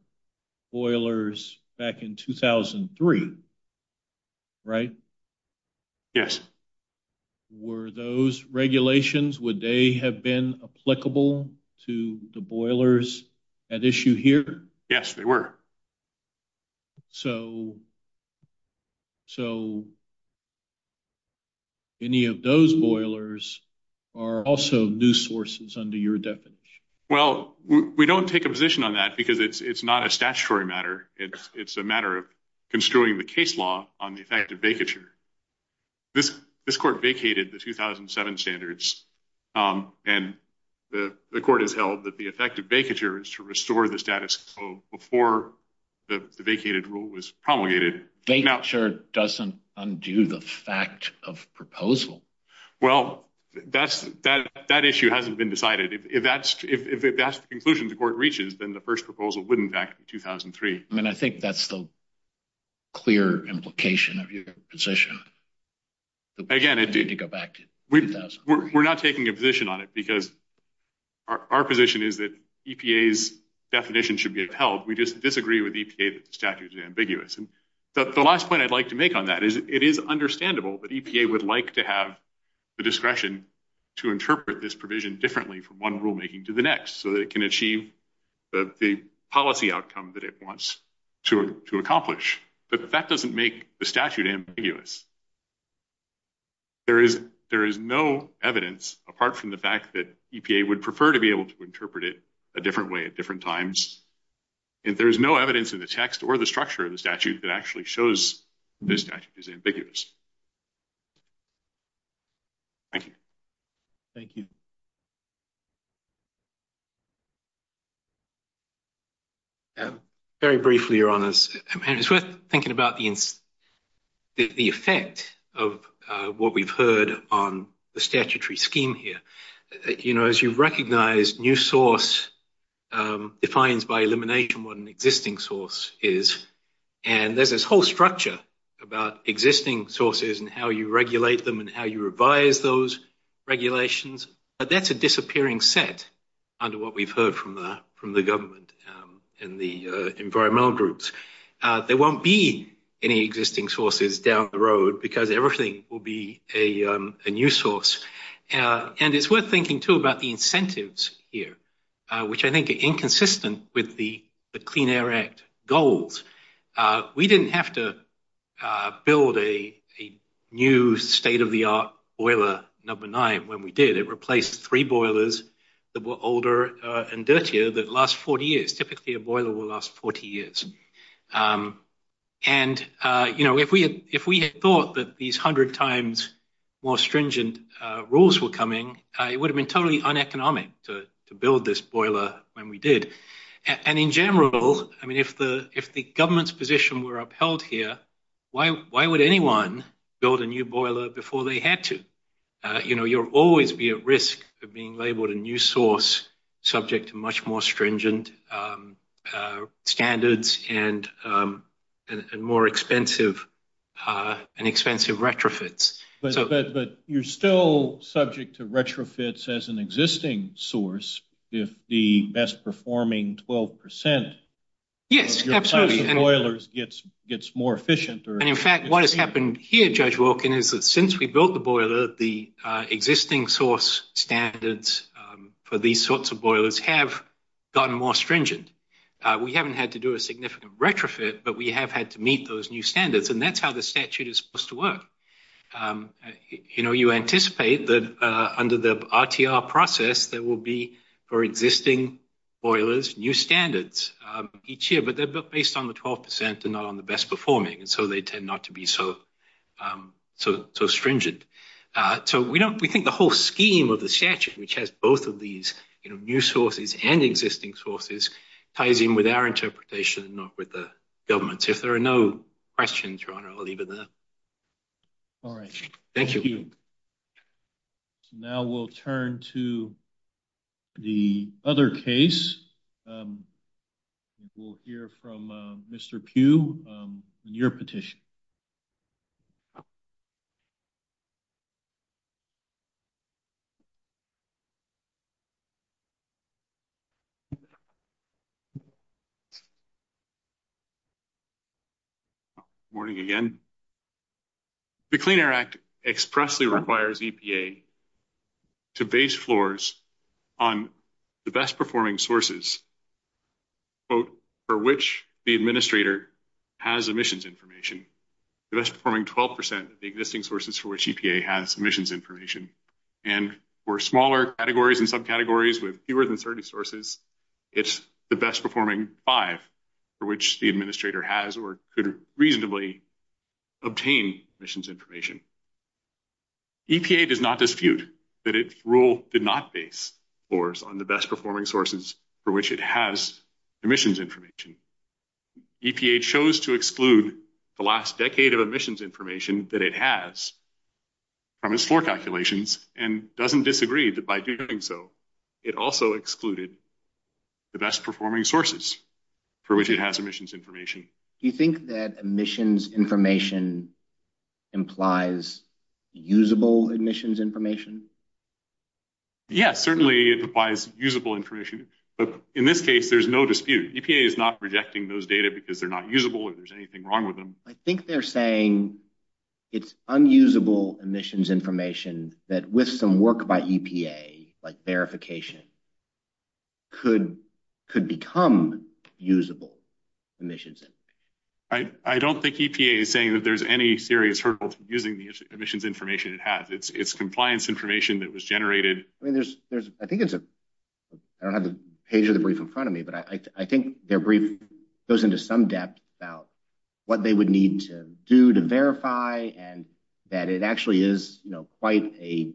boilers back in 2003. Right? Yes. Were those regulations, would they have been applicable to the boilers at issue here? Yes, they were. So, so any of those boilers are also new sources under your definition? Well, we don't take a position on that because it's, it's not a statutory matter. It's a matter of construing the case law on the effect of vacature. This, this court vacated the 2007 standards and the court has held that the effect of vacature is to restore the status quo before the vacated rule was promulgated. Vacature doesn't undo the fact of proposal. Well, that's, that, that issue hasn't been decided. If that's, if that's the conclusion the court reaches, then the first proposal wouldn't back in 2003. I mean, I think that's the clear implication of your position. Again, we're not taking a position on it because our position is that EPA's definition should be upheld. We just disagree with EPA's statutes and ambiguous. And the last point I'd like to make on that is it is understandable that EPA would like to have the discretion to interpret this provision differently from one rulemaking to the next, so that it can achieve the policy outcome that it wants to, to accomplish. But that doesn't make the statute ambiguous. There is, there is no evidence apart from the fact that EPA would prefer to be able to interpret it a different way at different times. And there's no evidence in the text or the structure of the statute that actually shows this statute is ambiguous. Thank you. Thank you. Yeah. Very briefly, Your Honors, and it's worth thinking about the, the effect of what we've heard on the statutory scheme here. You know, as you've recognized, new source defines by elimination what an existing source is. And there's this whole structure about existing sources and how you regulate them and how you from the government and the environmental groups. There won't be any existing sources down the road because everything will be a new source. And it's worth thinking, too, about the incentives here, which I think are inconsistent with the Clean Air Act goals. We didn't have to build a new state-of-the-art boiler number nine when we did. It replaced three boilers that were older and dirtier that last 40 years. Typically, a boiler will last 40 years. And, you know, if we had thought that these 100 times more stringent rules were coming, it would have been totally uneconomic to build this boiler when we did. And in general, I mean, if the government's position were upheld here, why would anyone build a new boiler before they had to? You know, you'll always be at risk of being labeled a new source subject to much more stringent standards and more expensive and expensive retrofits. But you're still subject to retrofits as an existing source if the best-performing 12% Yes, absolutely. Boilers gets more efficient. And in fact, what has happened here, Judge Wilkin, is that since we built the boiler, the existing source standards for these sorts of boilers have gotten more stringent. We haven't had to do a significant retrofit, but we have had to meet those new standards. And that's how the statute is supposed to work. You know, you anticipate that under the RTR process, there will be, for existing boilers, new standards each year, but they're based on the 12% and not on the best-performing. So they tend not to be so stringent. So we think the whole scheme of the statute, which has both of these new sources and existing sources, ties in with our interpretation, not with the government's. If there are no questions, Your Honor, I'll leave it there. All right. Thank you. Now we'll turn to the other case. We'll hear from Mr. Pugh, your petition. Morning again. The Clean Air Act expressly requires EPA to base floors on the best-performing sources, quote, for which the administrator has emissions information. The best-performing 12% of the existing sources for which EPA has emissions information. And for smaller categories and subcategories with fewer than 30 sources, it's the best-performing five, for which the administrator has or could reasonably obtain emissions information. EPA does not dispute that its rule did not base floors on the best-performing sources for which it has emissions information. EPA chose to exclude the last decade of emissions information that it has from its floor calculations and doesn't disagree that by doing so, it also excluded the best-performing sources for which it has emissions information. Do you think that emissions information implies usable emissions information? Yes, certainly it applies usable information. But in this case, there's no dispute. EPA is not rejecting those data because they're not usable or there's anything wrong with them. I think they're saying it's unusable emissions information that with some work by EPA, like verification, could become usable emissions information. I don't think EPA is saying that there's any serious hurdles to using the emissions information it has. It's compliance information that was generated. I think it's a, I don't have the page of the brief in front of me, but I think their brief goes into some depth about what they would need to do to verify and that it actually is quite a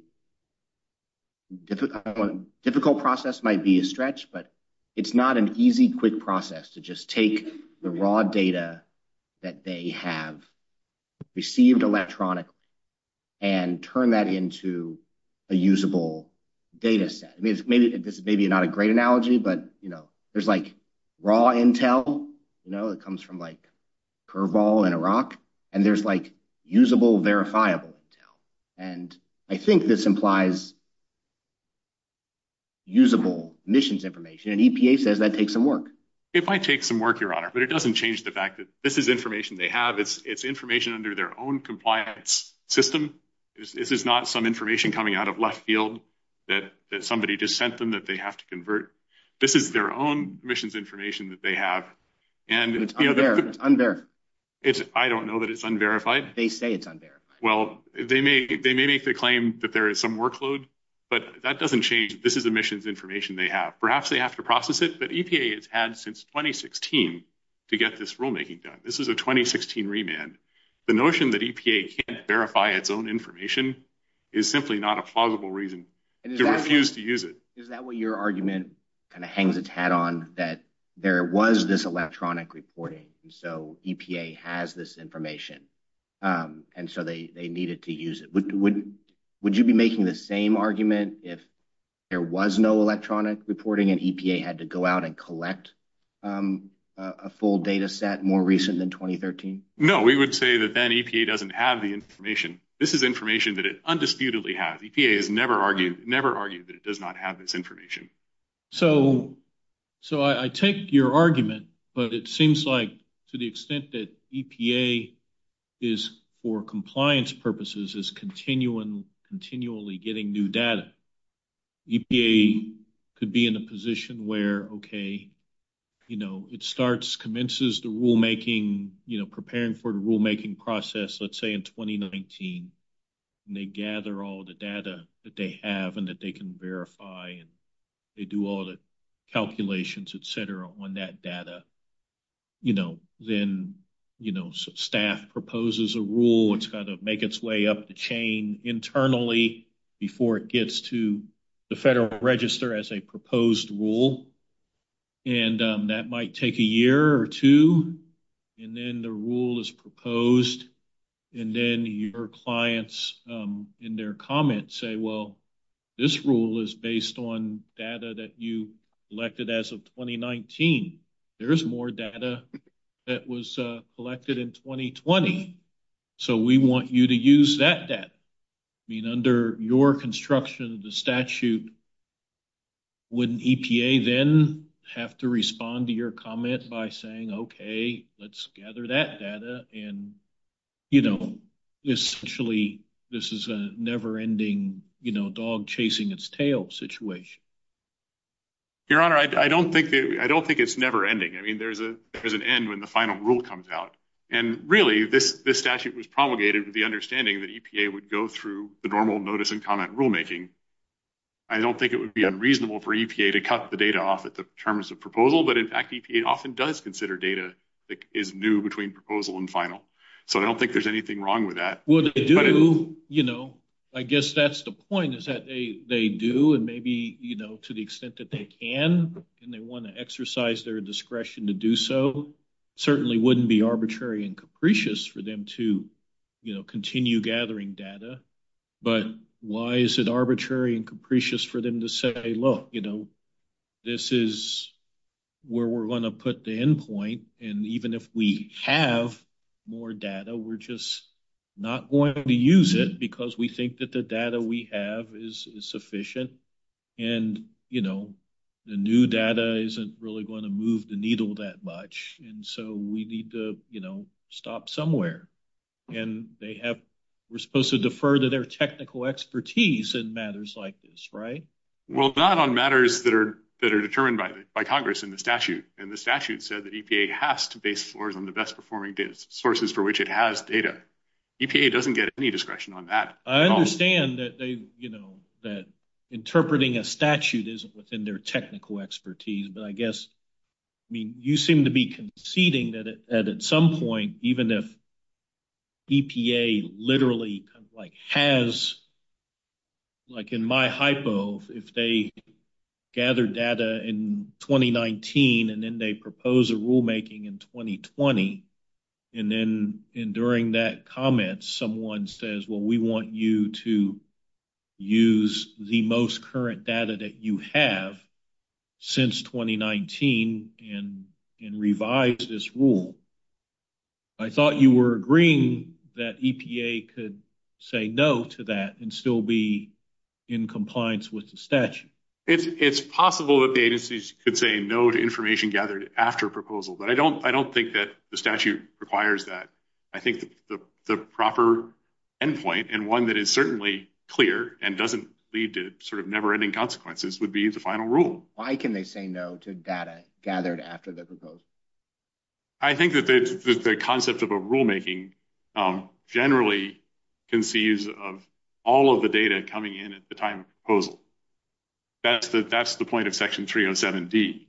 difficult process, might be a stretch, but it's not an easy, quick process to just take the raw data that they have received electronically and turn that into a usable dataset. I mean, this is maybe not a great analogy, but there's like raw intel, you know, it comes from like curveball and a rock, and there's like usable verifiable intel. And I think this implies usable emissions information. And EPA says that takes some work. It might take some work, Your Honor, but it doesn't change the fact that this is information they have. It's information under their own compliance system. This is not some information coming out of left field that somebody just sent them that they have to convert. This is their own emissions information that they have. And I don't know that it's unverified. They say it's unverified. Well, they may make the claim that there is some workload, but that doesn't change. This is emissions information they have. Perhaps they have to process it, but EPA has had since 2016 to get this rulemaking done. This is a 2016 remand. The notion that EPA can't verify its own information is simply not a plausible reason to refuse to use it. Is that what your argument kind of hangs its hat on, that there was this electronic reporting, and so EPA has this information, and so they needed to use it? Would you be making the same argument if there was no electronic reporting and EPA had to go out and collect a full data set more recent than 2013? No, we would say that then EPA doesn't have the information. This is information that it undisputedly has. EPA has never argued that it does not have this information. So I take your argument, but it seems like to the extent that EPA is, for compliance purposes, is continually getting new data, EPA could be in a position where, okay, it starts, commences the rulemaking, preparing for the rulemaking process, let's say in 2019, and they gather all the data that they have and that they can verify, and they do all the calculations, et cetera, on that data. You know, then, you know, staff proposes a rule, it's got to make its way up the chain internally before it gets to the Federal Register as a proposed rule, and that might take a year or two, and then the rule is proposed, and then your clients in their comments say, well, this rule is based on data that you collected as of 2019. There's more data that was collected in 2020. So we want you to use that data. I mean, under your construction, the statute, wouldn't EPA then have to respond to your comment by saying, okay, let's gather that data, and, you know, essentially, this is a never-ending, you know, dog-chasing-its-tail situation? Your Honor, I don't think it's never-ending. I mean, there's an end when the final rule comes out. And really, this statute was promulgated with the understanding that EPA would go through the normal notice-and-comment rulemaking. I don't think it would be unreasonable for EPA to cut the data off the terms of proposal, but in fact, EPA often does consider data that is new between proposal and final. So I don't think there's anything wrong with that. But if they do, you know, I guess that's the point, is that they do, and maybe, you know, to the extent that they can, and they want to exercise their discretion to do so, certainly wouldn't be arbitrary and capricious for them to, you know, continue gathering data. But why is it arbitrary and capricious for them to say, look, you know, this is where we're going to put the end point. And even if we have more data, we're just not going to use it because we think that the data we have is sufficient. And, you know, the new data isn't really going to move the needle that much. And so we need to, you know, stop somewhere. And they have, we're supposed to defer to their technical expertise in matters like this, right? Well, not on matters that are determined by Congress and the statute. And the statute says that EPA has to base floors on the best performing data sources for which it has data. EPA doesn't get any discretion on that. I understand that, you know, that interpreting a statute isn't within their technical expertise. But I guess, I mean, you seem to be conceding that at some point, even if EPA literally has, like in my hypo, if they gather data in 2019, and then they propose a rulemaking in 2020, and then during that comment, someone says, well, we want you to use the most current data that you have since 2019 and revise this rule. I thought you were agreeing that EPA could say no to that and still be in compliance with the statute. It's possible that the agencies could say no to information gathered after a proposal. But I don't think that the statute requires that. I think the proper endpoint and one that is certainly clear and doesn't lead to sort of never-ending consequences would be the final rule. Why can they say no to data gathered after their proposal? I think that the concept of a rulemaking generally concedes of all of the data coming in at the time of the proposal. That's the point of Section 307D.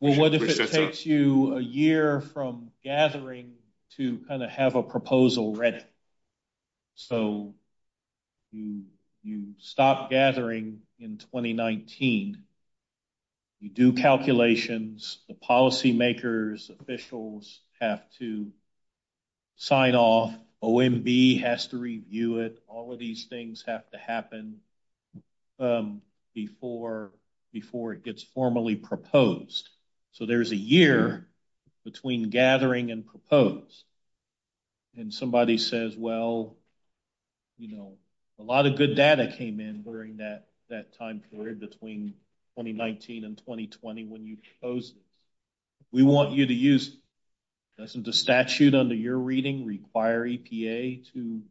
Well, what if it takes you a year from gathering to kind of have a proposal ready? So you stop gathering in 2019. You do calculations. The policymakers, officials have to sign off. OMB has to review it. All of these things have to happen before it gets formally proposed. So there's a year between gathering and proposed. And somebody says, well, you know, a lot of good data came in during that time period between 2019 and 2020 when you chose it. We want you to use, doesn't the statute under your reading require EPA to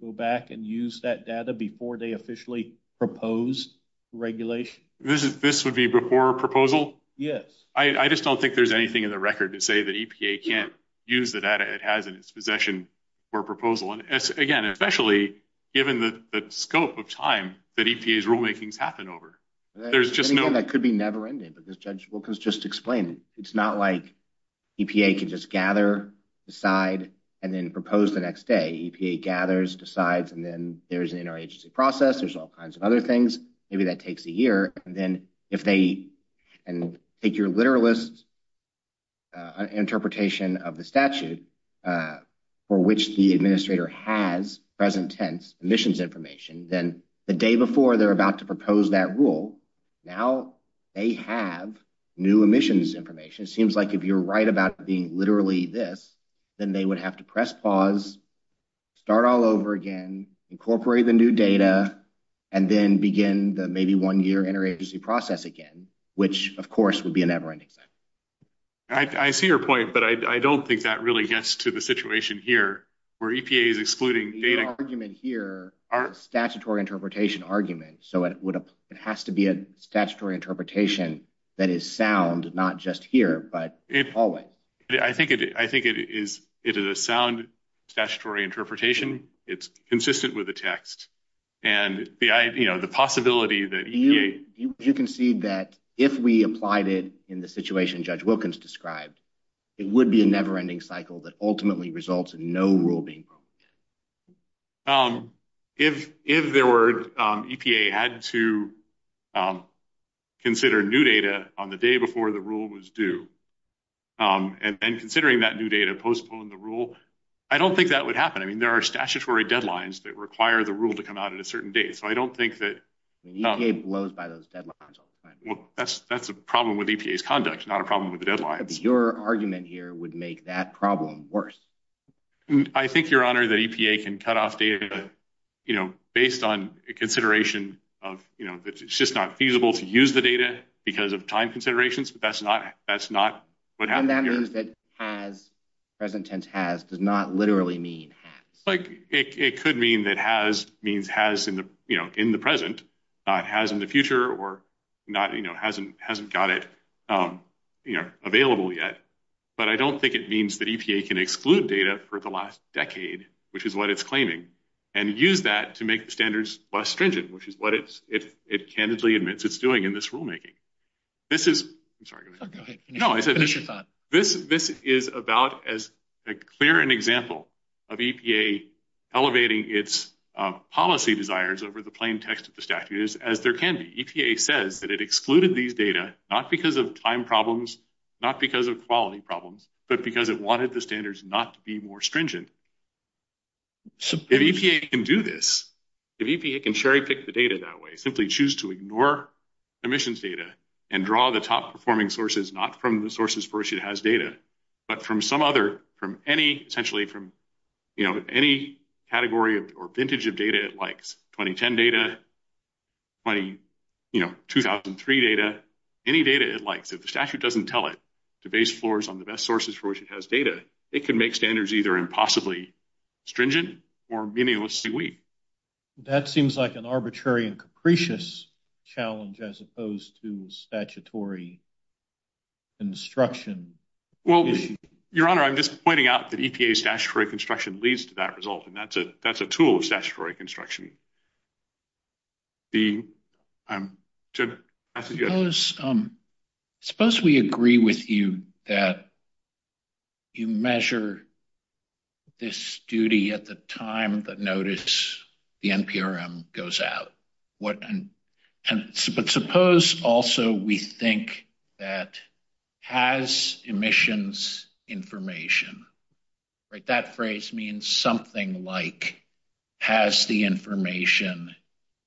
go back and use that data before they officially propose regulation? This would be before proposal? Yes. I just don't think there's anything in the record to say that EPA can't use the data it has in its possession for a proposal. Again, especially given the scope of time that EPA's rulemaking has happened over. That could be never-ending, but this judge will just explain it. It's not like EPA can just gather, decide, and then propose the next day. EPA gathers, decides, and then there's an interagency process. There's all kinds of other things. Maybe that takes a year. And then if they take your literalist interpretation of the statute for which the administrator has present-tense emissions information, then the day before they're about to propose that rule, now they have new emissions information. It seems like if you're right about being literally this, then they would have to press pause, start all over again, incorporate the new data, and then begin the maybe one-year interagency process again, which, of course, would be a never-ending thing. I see your point, but I don't think that really gets to the situation here. Where EPA is excluding data- The argument here is a statutory interpretation argument. So it has to be a statutory interpretation that is sound, not just here, but always. I think it is a sound statutory interpretation. It's consistent with the text. And the possibility that EPA- You can see that if we applied it in the situation Judge Wilkins described, it would be a never-ending cycle that ultimately results in no rule being proposed. If EPA had to consider new data on the day before the rule was due, and then considering that new data postponed the rule, I don't think that would happen. I mean, there are statutory deadlines that require the rule to come out at a certain date. So I don't think that- EPA blows by those deadlines all the time. Well, that's a problem with EPA's conduct, not a problem with the deadline. Your argument here would make that problem worse. I think, Your Honor, that EPA can cut off data, you know, based on a consideration of, you know, it's just not feasible to use the data because of time considerations. But that's not what happens here. And that means that has, present tense has, does not literally mean has. Like, it could mean that has means has in the, you know, in the present, not has in the future or not, you know, hasn't, hasn't got it, you know, available yet. But I don't think it means that EPA can exclude data for the last decade, which is what it's claiming, and use that to make the standards less stringent, which is what it's, it candidly admits it's doing in this rulemaking. This is, I'm sorry. No, I said this is about as a clear an example of EPA elevating its policy desires over the EPA says that it excluded these data, not because of time problems, not because of quality problems, but because it wanted the standards not to be more stringent. If EPA can do this, if EPA can cherry pick the data that way, simply choose to ignore emissions data and draw the top performing sources, not from the sources first it has data, but from some other, from any, essentially from, you know, any category or vintage of data it likes, 2010 data, you know, 2003 data, any data it likes. If the statute doesn't tell it to base floors on the best sources for which it has data, it can make standards either impossibly stringent or meaninglessly weak. That seems like an arbitrary and capricious challenge as opposed to statutory construction. Well, your honor, I'm just pointing out that EPA statutory construction leads to that result, and that's a tool of statutory construction. Suppose we agree with you that you measure this duty at the time that notice the NPRM goes out. But suppose also we think that has emissions information, right, that phrase means something like has the information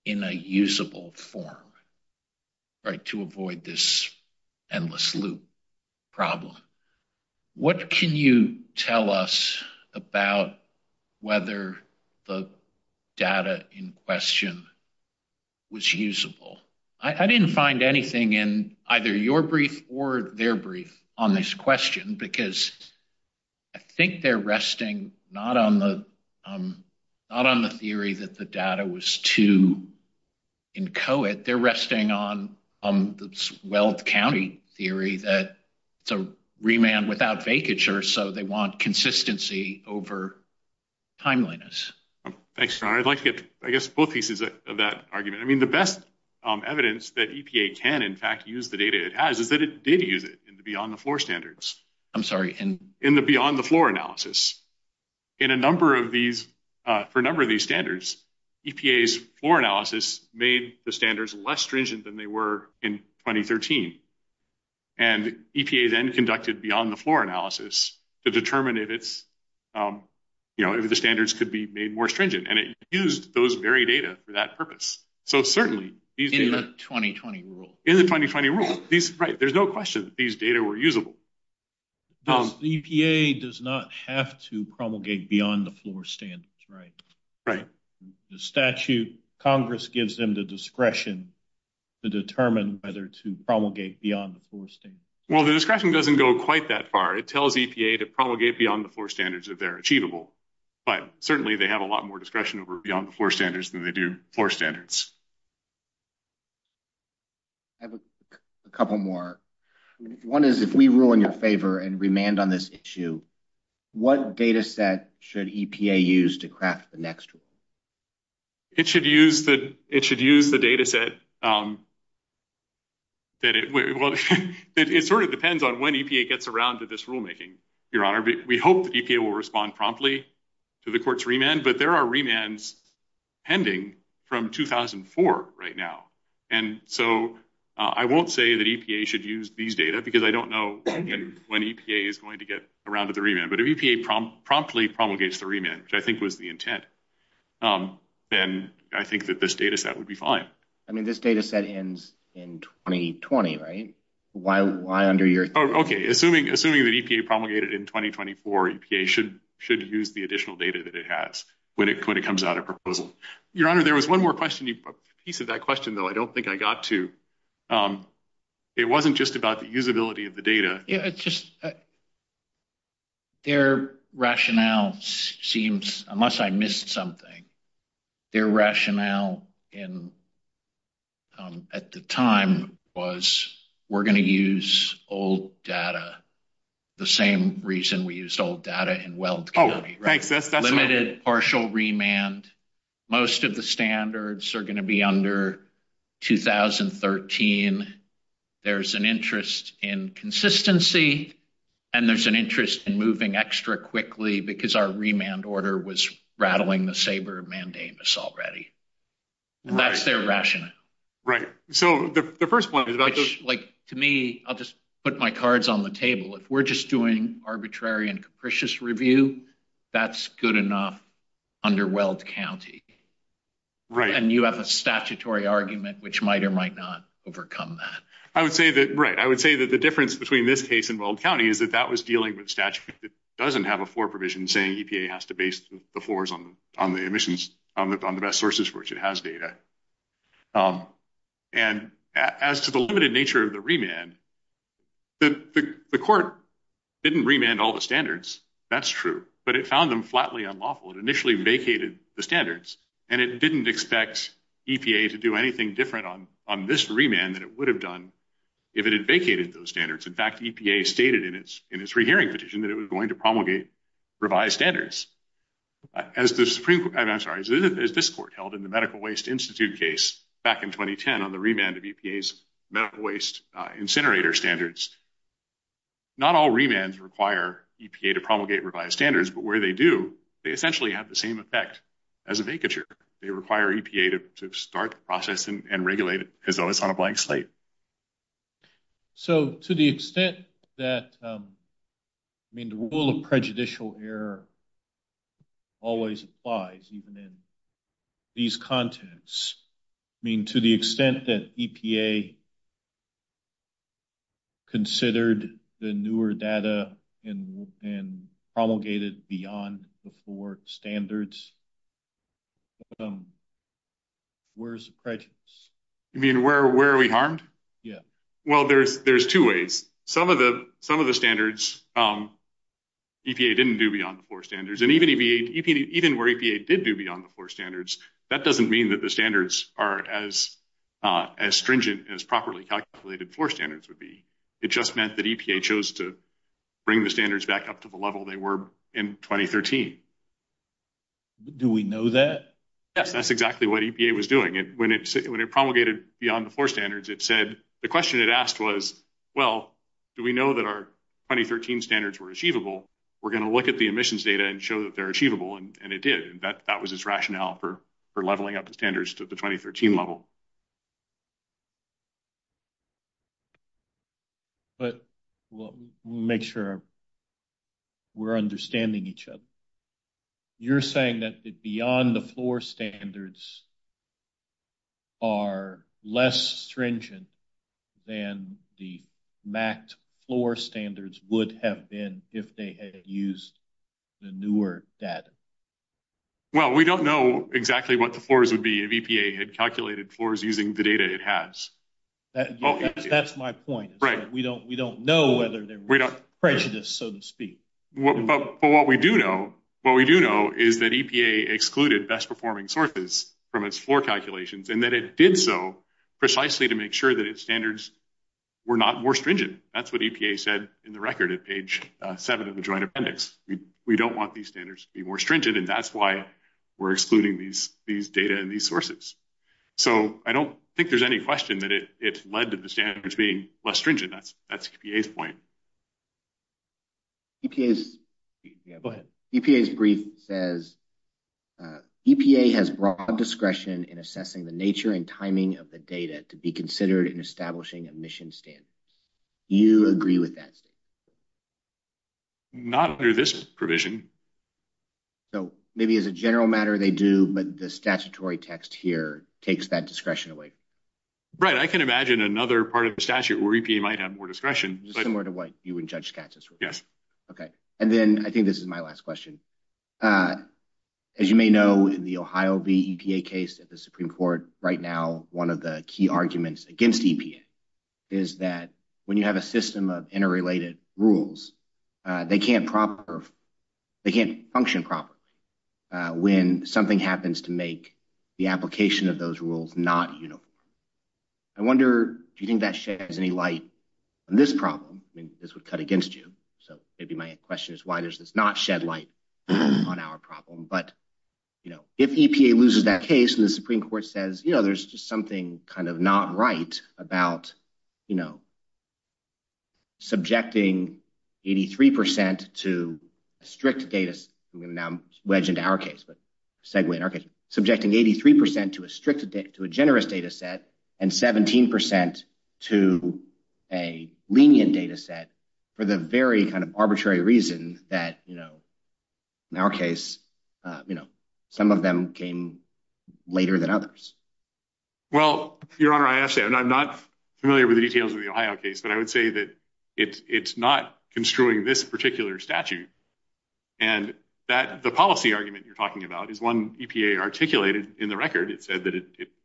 in a usable form, right, to avoid this endless loop problem. What can you tell us about whether the data in question was usable? I didn't find anything in either your brief or their brief on this question because I think they're resting not on the theory that the data was too inchoate. They're resting on the Weld County theory that it's a remand without vacatures, so they want consistency over timeliness. Thanks, your honor. I'd like to get, I guess, both pieces of that argument. I mean, the best evidence that EPA can, in fact, use the data it has is that it did use it in the beyond the floor standards. I'm sorry. In the beyond the floor analysis. In a number of these, for a number of these standards, EPA's floor analysis made the standards less stringent than they were in 2013, and EPA then conducted beyond the floor analysis to determine if it's, you know, if the standards could be made more stringent, and it used those very data for that purpose. So certainly. In the 2020 rule. In the 2020 rule. Right. There's no question that these data were usable. EPA does not have to promulgate beyond the floor standards, right? Right. The statute, Congress gives them the discretion to determine whether to promulgate beyond the floor standards. Well, the discretion doesn't go quite that far. It tells EPA to promulgate beyond the floor standards if they're achievable, but certainly they have a lot more discretion over beyond the floor standards than they do floor standards. I have a couple more. One is, if we rule in your favor and remand on this issue, what data set should EPA use to craft the next rule? It should use the data set that it, well, it sort of depends on when EPA gets around to this rulemaking, Your Honor. We hope that EPA will respond promptly to the court's remand, but there are remands pending from 2004 right now. And so I won't say that EPA should use these data because I don't know when EPA is going to get around to the remand, but if EPA promptly promulgates the remand, which I think was the intent, then I think that this data set would be fine. I mean, this data set ends in 2020, right? Why under your... Okay. Assuming that EPA promulgated in 2024, EPA should use the additional data that it has when it comes out of proposal. Your Honor, there was one more question, piece of that question, though I don't think I got to. It wasn't just about the usability of the data. Yeah, it's just their rationale seems, unless I missed something, their rationale in at the time was we're going to use old data, the same reason we used old data in Weld County, limited partial remand. Most of the standards are going to be under 2013. There's an interest in consistency and there's an interest in moving extra quickly because our remand order was rattling the saber of mandamus already. That's their rationale. Right. So the first one, like to me, I'll just put my cards on the table. If we're just doing arbitrary and capricious review, that's good enough under Weld County. Right. And you have a statutory argument which might or might not overcome that. I would say that, right, I would say that the difference between this case and Weld County is that that was dealing with statute that doesn't have a floor provision saying EPA has to base the floors on the emissions, on the best sources for which it has data. And as to the limited nature of the remand, the court didn't remand all the standards. That's true, but it found them flatly unlawful. It initially vacated the standards and it didn't expect EPA to do anything different on this remand than it would have done if it had vacated those standards. In fact, EPA stated in its rehearing petition that it was going to promulgate revised standards. As this court held in the Medical Waste Institute case back in 2010 on the remand of EPA's to promulgate revised standards, but where they do, they essentially have the same effect as a vacature. They require EPA to start processing and regulate it as though it's on a blank slate. So to the extent that, I mean, the rule of prejudicial error always applies even in these contents. I mean, to the extent that EPA considered the newer data and promulgated beyond the floor standards, where's the prejudice? You mean where are we harmed? Yeah. Well, there's two ways. Some of the standards EPA didn't do beyond the floor standards and even where EPA did do beyond the floor standards, that doesn't mean that the standards are as stringent as properly calculated floor standards would be. It just meant that EPA chose to bring the standards back up to the level they were in 2013. Do we know that? Yes, that's exactly what EPA was doing. When it promulgated beyond the floor standards, it said, the question it asked was, well, do we know that our 2013 standards were achievable? We're going to look at the emissions data and show that they're achievable. And it did. And that was its rationale for leveling up the standards to the 2013 level. But we'll make sure we're understanding each other. You're saying that the beyond the floor standards are less stringent than the mapped floor standards would have been if they had used the newer data? Well, we don't know exactly what the floors would be if EPA had calculated floors using the data it has. That's my point. We don't know whether there were prejudices, so to speak. But what we do know is that EPA excluded best performing sources from its floor calculations, and that it did so precisely to make sure that its standards were not more stringent. That's what EPA said in the record at page seven of the joint appendix. We don't want these standards to be more stringent, and that's why we're excluding these data and these sources. So I don't think there's any question that it led to the standards being less stringent. That's EPA's point. Go ahead. EPA's brief says, EPA has broad discretion in assessing the nature and timing of the data to be considered in establishing a mission standard. Do you agree with that? Not under this provision. So maybe as a general matter they do, but the statutory text here takes that discretion away. Right. I can imagine another part of the statute where EPA might have discretion. Similar to what you and Judge Skat just wrote. Yes. Okay. And then I think this is my last question. As you may know, in the Ohio v. EPA case at the Supreme Court right now, one of the key arguments against EPA is that when you have a system of interrelated rules, they can't function properly when something happens to make the application of those rules not uniform. I wonder if you think that sheds any light on this problem. Maybe this would cut against you. So maybe my question is why does this not shed light on our problem? But if EPA loses that case and the Supreme Court says, there's just something kind of not right about subjecting 83% to a strict data... I'm going to now wedge into our case, but segue in our case. Subjecting 83% to a generous data set and 17% to a lenient data set for the very kind of arbitrary reason that, in our case, some of them came later than others. Well, Your Honor, I have said, and I'm not familiar with the details of the Ohio case, but I would say that it's not construing this particular statute. And the policy argument you're talking about is one EPA articulated in the record. It said that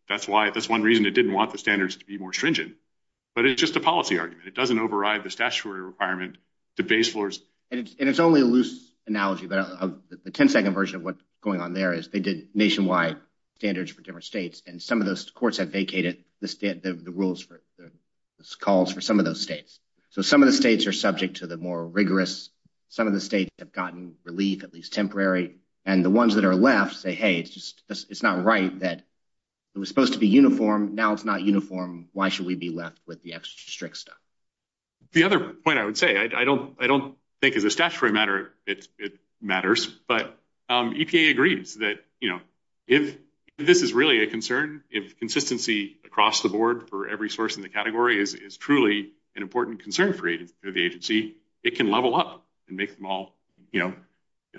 that's one reason it didn't want the standards to be more stringent, but it's just a policy argument. It doesn't override the statutory requirement to base floors. And it's only a loose analogy, but the 10 second version of what's going on there is they did nationwide standards for different states. And some of those courts have vacated the rules for the calls for some of those states. So some of the states are subject to the more rigorous, some of the states have gotten relief, at least temporary, and the ones that are left say, hey, it's not right that it was supposed to be uniform. Now it's not uniform. Why should we be left with the extra strict stuff? The other point I would say, I don't think as a statutory matter it matters, but EPA agrees that if this is really a concern, if consistency across the board for every source in the category is truly an important concern for the agency, it can level up and make them all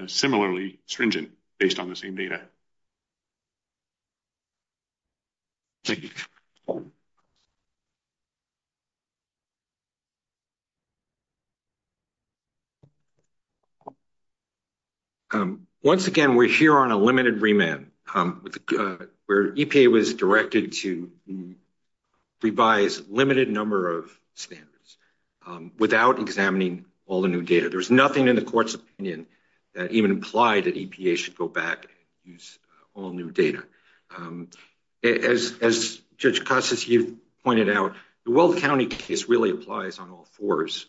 similarly stringent based on the same data. Once again, we're here on a limited remand where EPA was directed to revise limited number of standards without examining all the new data. There's nothing in the court's opinion that even implied that EPA should go back and use all new data. As Judge Costas, you pointed out, the Weld County case really applies on all fours.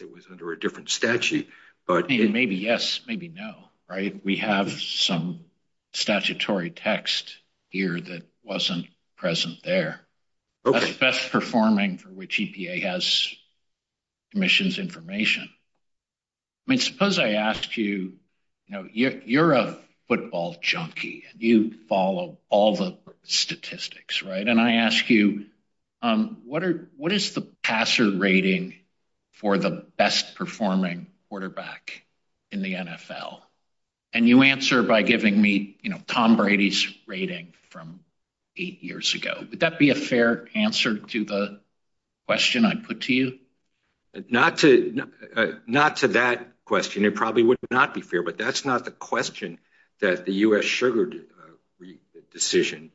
It was under a different statute. But maybe yes, maybe no, right? We have some statutory text here that wasn't present there. Best performing for which EPA has commissions information. Suppose I asked you, you're a football junkie. You follow all the statistics, right? And I ask you, what is the passer rating for the best performing quarterback in the NFL? And you answer by giving me Tom Brady's rating from eight years ago. Would that be a fair answer to the question I put to you? Not to that question. It probably would not be fair. But that's not the question that the U.S. Sugar Decision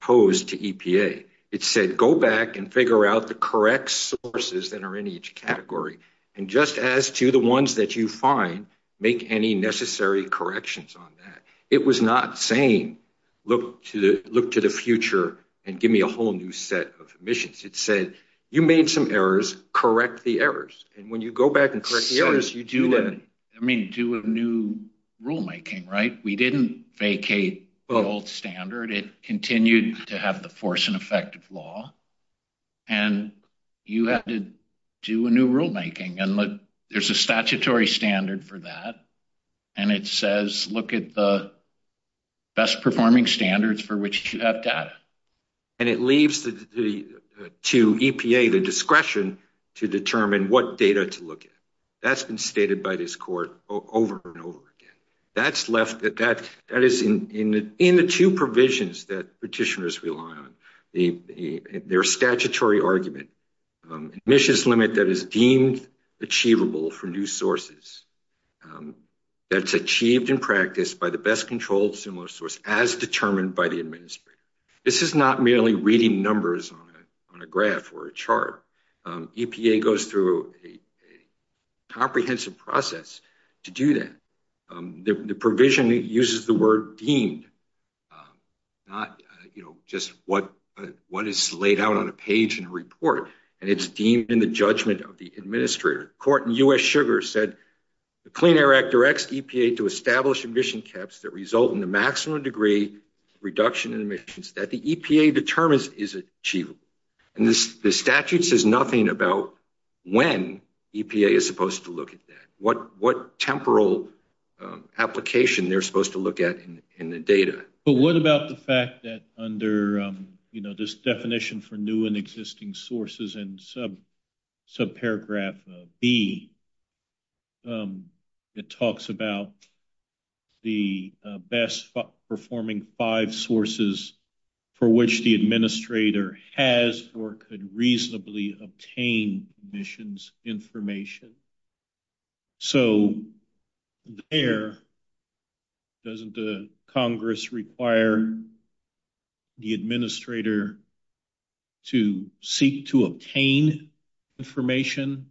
posed to EPA. It said, go back and figure out the correct sources that are in each category. And just as to the ones that you find, make any necessary corrections on that. It was not saying, look to the future and give me a whole new set of emissions. It said, you made some errors, correct the errors. And when you go back and correct the errors, you do that. I mean, you do a new rulemaking, right? We didn't vacate the old standard. It continued to have the force and effect of law. And you have to do a new rulemaking. There's a statutory standard for that. And it says, look at the best performing standards for which you have data. And it leaves to EPA the discretion to determine what data to look at. That's been stated by this court over and over again. That is in the two provisions that achievable from new sources. That's achieved in practice by the best controlled stimulus source as determined by the administrator. This is not merely reading numbers on a graph or a chart. EPA goes through a comprehensive process to do that. The provision uses the word deemed, not just what is laid out on a page in a report. And it's deemed in the judgment of the administrator. The court in U.S. Sugar said the Clean Air Act directs EPA to establish emission caps that result in a maximum degree reduction in emissions that the EPA determines is achievable. And the statute says nothing about when EPA is supposed to look at that. What temporal application they're supposed to look at in the data. But what about the fact that under, you know, this definition for new and existing sources in subparagraph B, it talks about the best performing five sources for which the administrator has or could reasonably obtain emissions information. So, there, doesn't the Congress require the administrator to seek to obtain information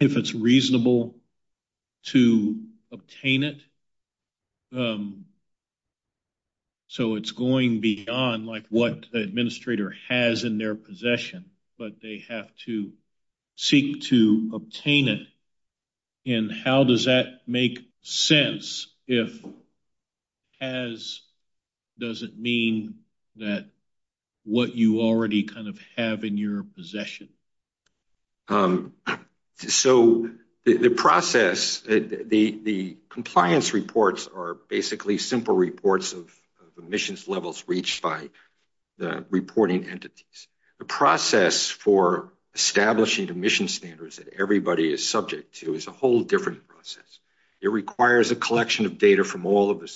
if it's reasonable to obtain it? So, it's going beyond, like, what the administrator has in their possession. But they have to seek to obtain it. And how does that make sense? If has, does it mean that what you already kind of have in your possession? So, the process, the compliance reports are basically simple reports of emissions levels reached by the reporting entities. The process for establishing emission standards that everybody is subject to is a whole different process. It requires a collection of data from all of the to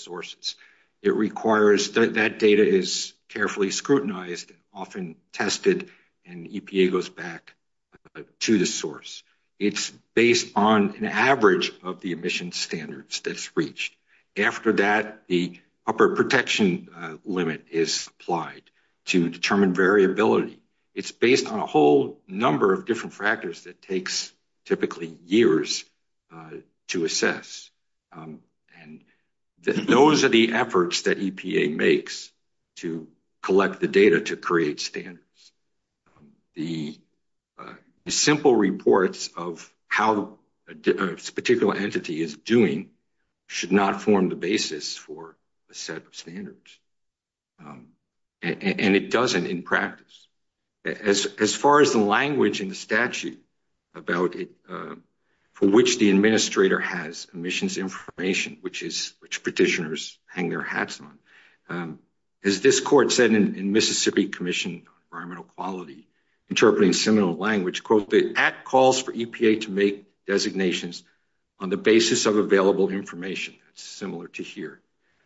the source. It's based on an average of the emission standards that's reached. After that, the upper protection limit is applied to determine variability. It's based on a whole number of different factors that takes typically years to assess. And those are the efforts that the simple reports of how a particular entity is doing should not form the basis for a set of standards. And it doesn't in practice. As far as the language in the statute about it, for which the administrator has emissions information, which is, which petitioners hang their hats on. As this court said in Mississippi Commission Environmental Quality, interpreting similar language, quote, the act calls for EPA to make designations on the basis of available information. It's similar to here.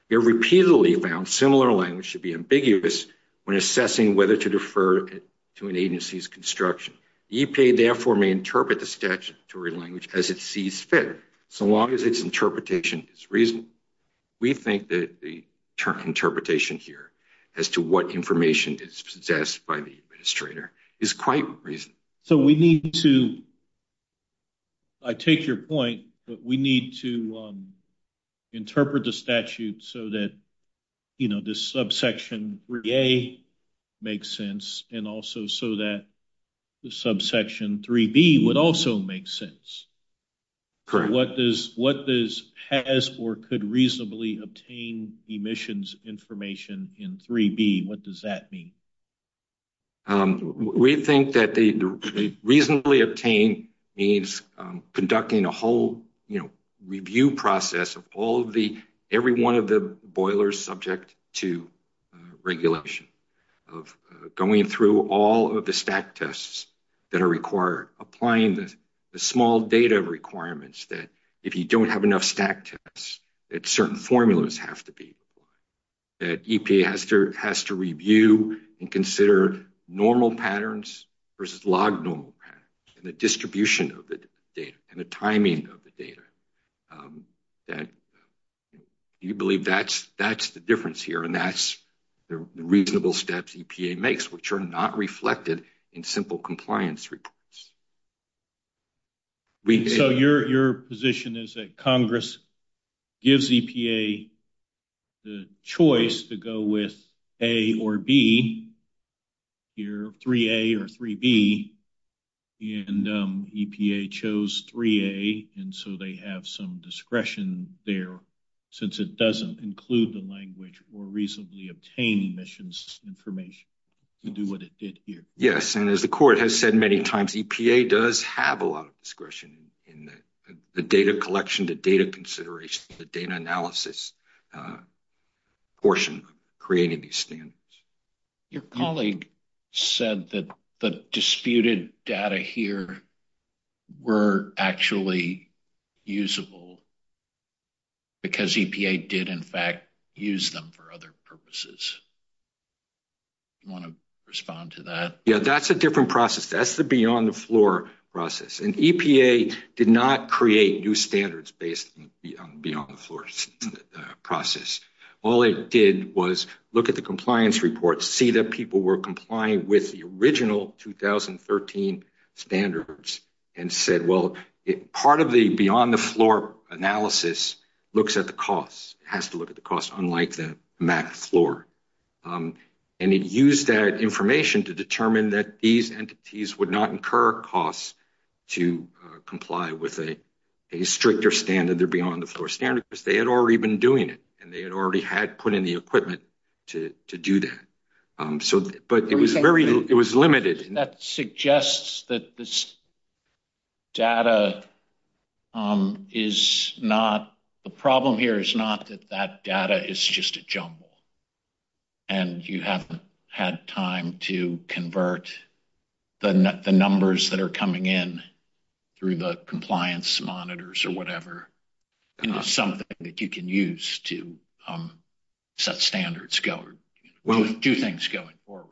They're repeatedly found similar language should be ambiguous when assessing whether to defer to an agency's construction. EPA therefore may interpret the statutory language as it sees fit, so long as its interpretation is reasonable. We think that the interpretation here as to what information is possessed by the administrator. Is quite reasonable. So we need to, I take your point, but we need to interpret the statute so that, you know, this subsection 3A makes sense. And also so that subsection 3B would also make sense. Correct. What does, what does, has or could reasonably obtain emissions information in 3B? What does that mean? We think that the reasonably obtain means conducting a whole, you know, review process of all of the, every one of the boilers subject to regulation. Of going through all of the stack tests that are required. Applying the small data requirements that if you don't have enough stack tests, that certain formulas have to be. That EPA has to review and consider normal patterns versus log normal patterns and the distribution of the data and the timing of the data. That you believe that's the difference here and that's the reasonable steps EPA makes, which are not reflected in simple compliance reports. So your position is that Congress gives EPA the choice to go with A or B, here 3A or 3B, and EPA chose 3A and so they have some discretion there since it doesn't include the language or reasonably obtain emissions information to do what it did here. Yes, and as the court has said many times, EPA does have a lot of discretion in the data collection, the data consideration, the data analysis portion creating these standards. Your colleague said that the disputed data here were actually usable because EPA did in fact use them for other purposes. Do you want to respond to that? Yeah, that's a different process. That's the beyond the floor process and EPA did not create new standards based on beyond the floor process. All it did was look at the compliance reports, see that people were complying with the original 2013 standards and said well part of the beyond the floor analysis looks at the cost, has to look at the cost unlike the max floor. And it used that information to determine that these entities would not incur costs to comply with a stricter standard, their beyond the floor standard, because they had already been doing it and they had already had put in the equipment to do that. But it was very, it was limited. That suggests that this data is not, the problem here is not that that data is just a jumble and you haven't had time to convert the numbers that are coming in through the compliance monitors or whatever into something that you can use to set standards, one of the two things going forward.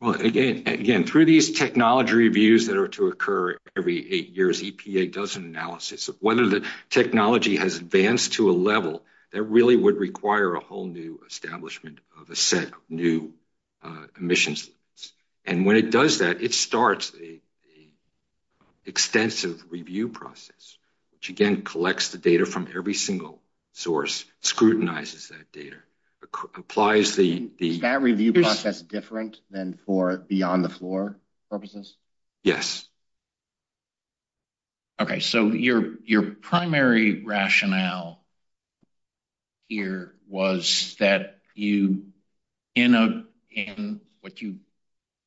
Well again, through these technology reviews that are to occur every eight years, EPA does an analysis of whether the technology has advanced to a level that really would require a whole new establishment of a set of new emissions. And when it does that, it starts a extensive review process, which again collects the data from every single source, scrutinizes that data, applies the... Is that review process different than for beyond the floor purposes? Yes. Okay, so your primary rationale here was that you, in what you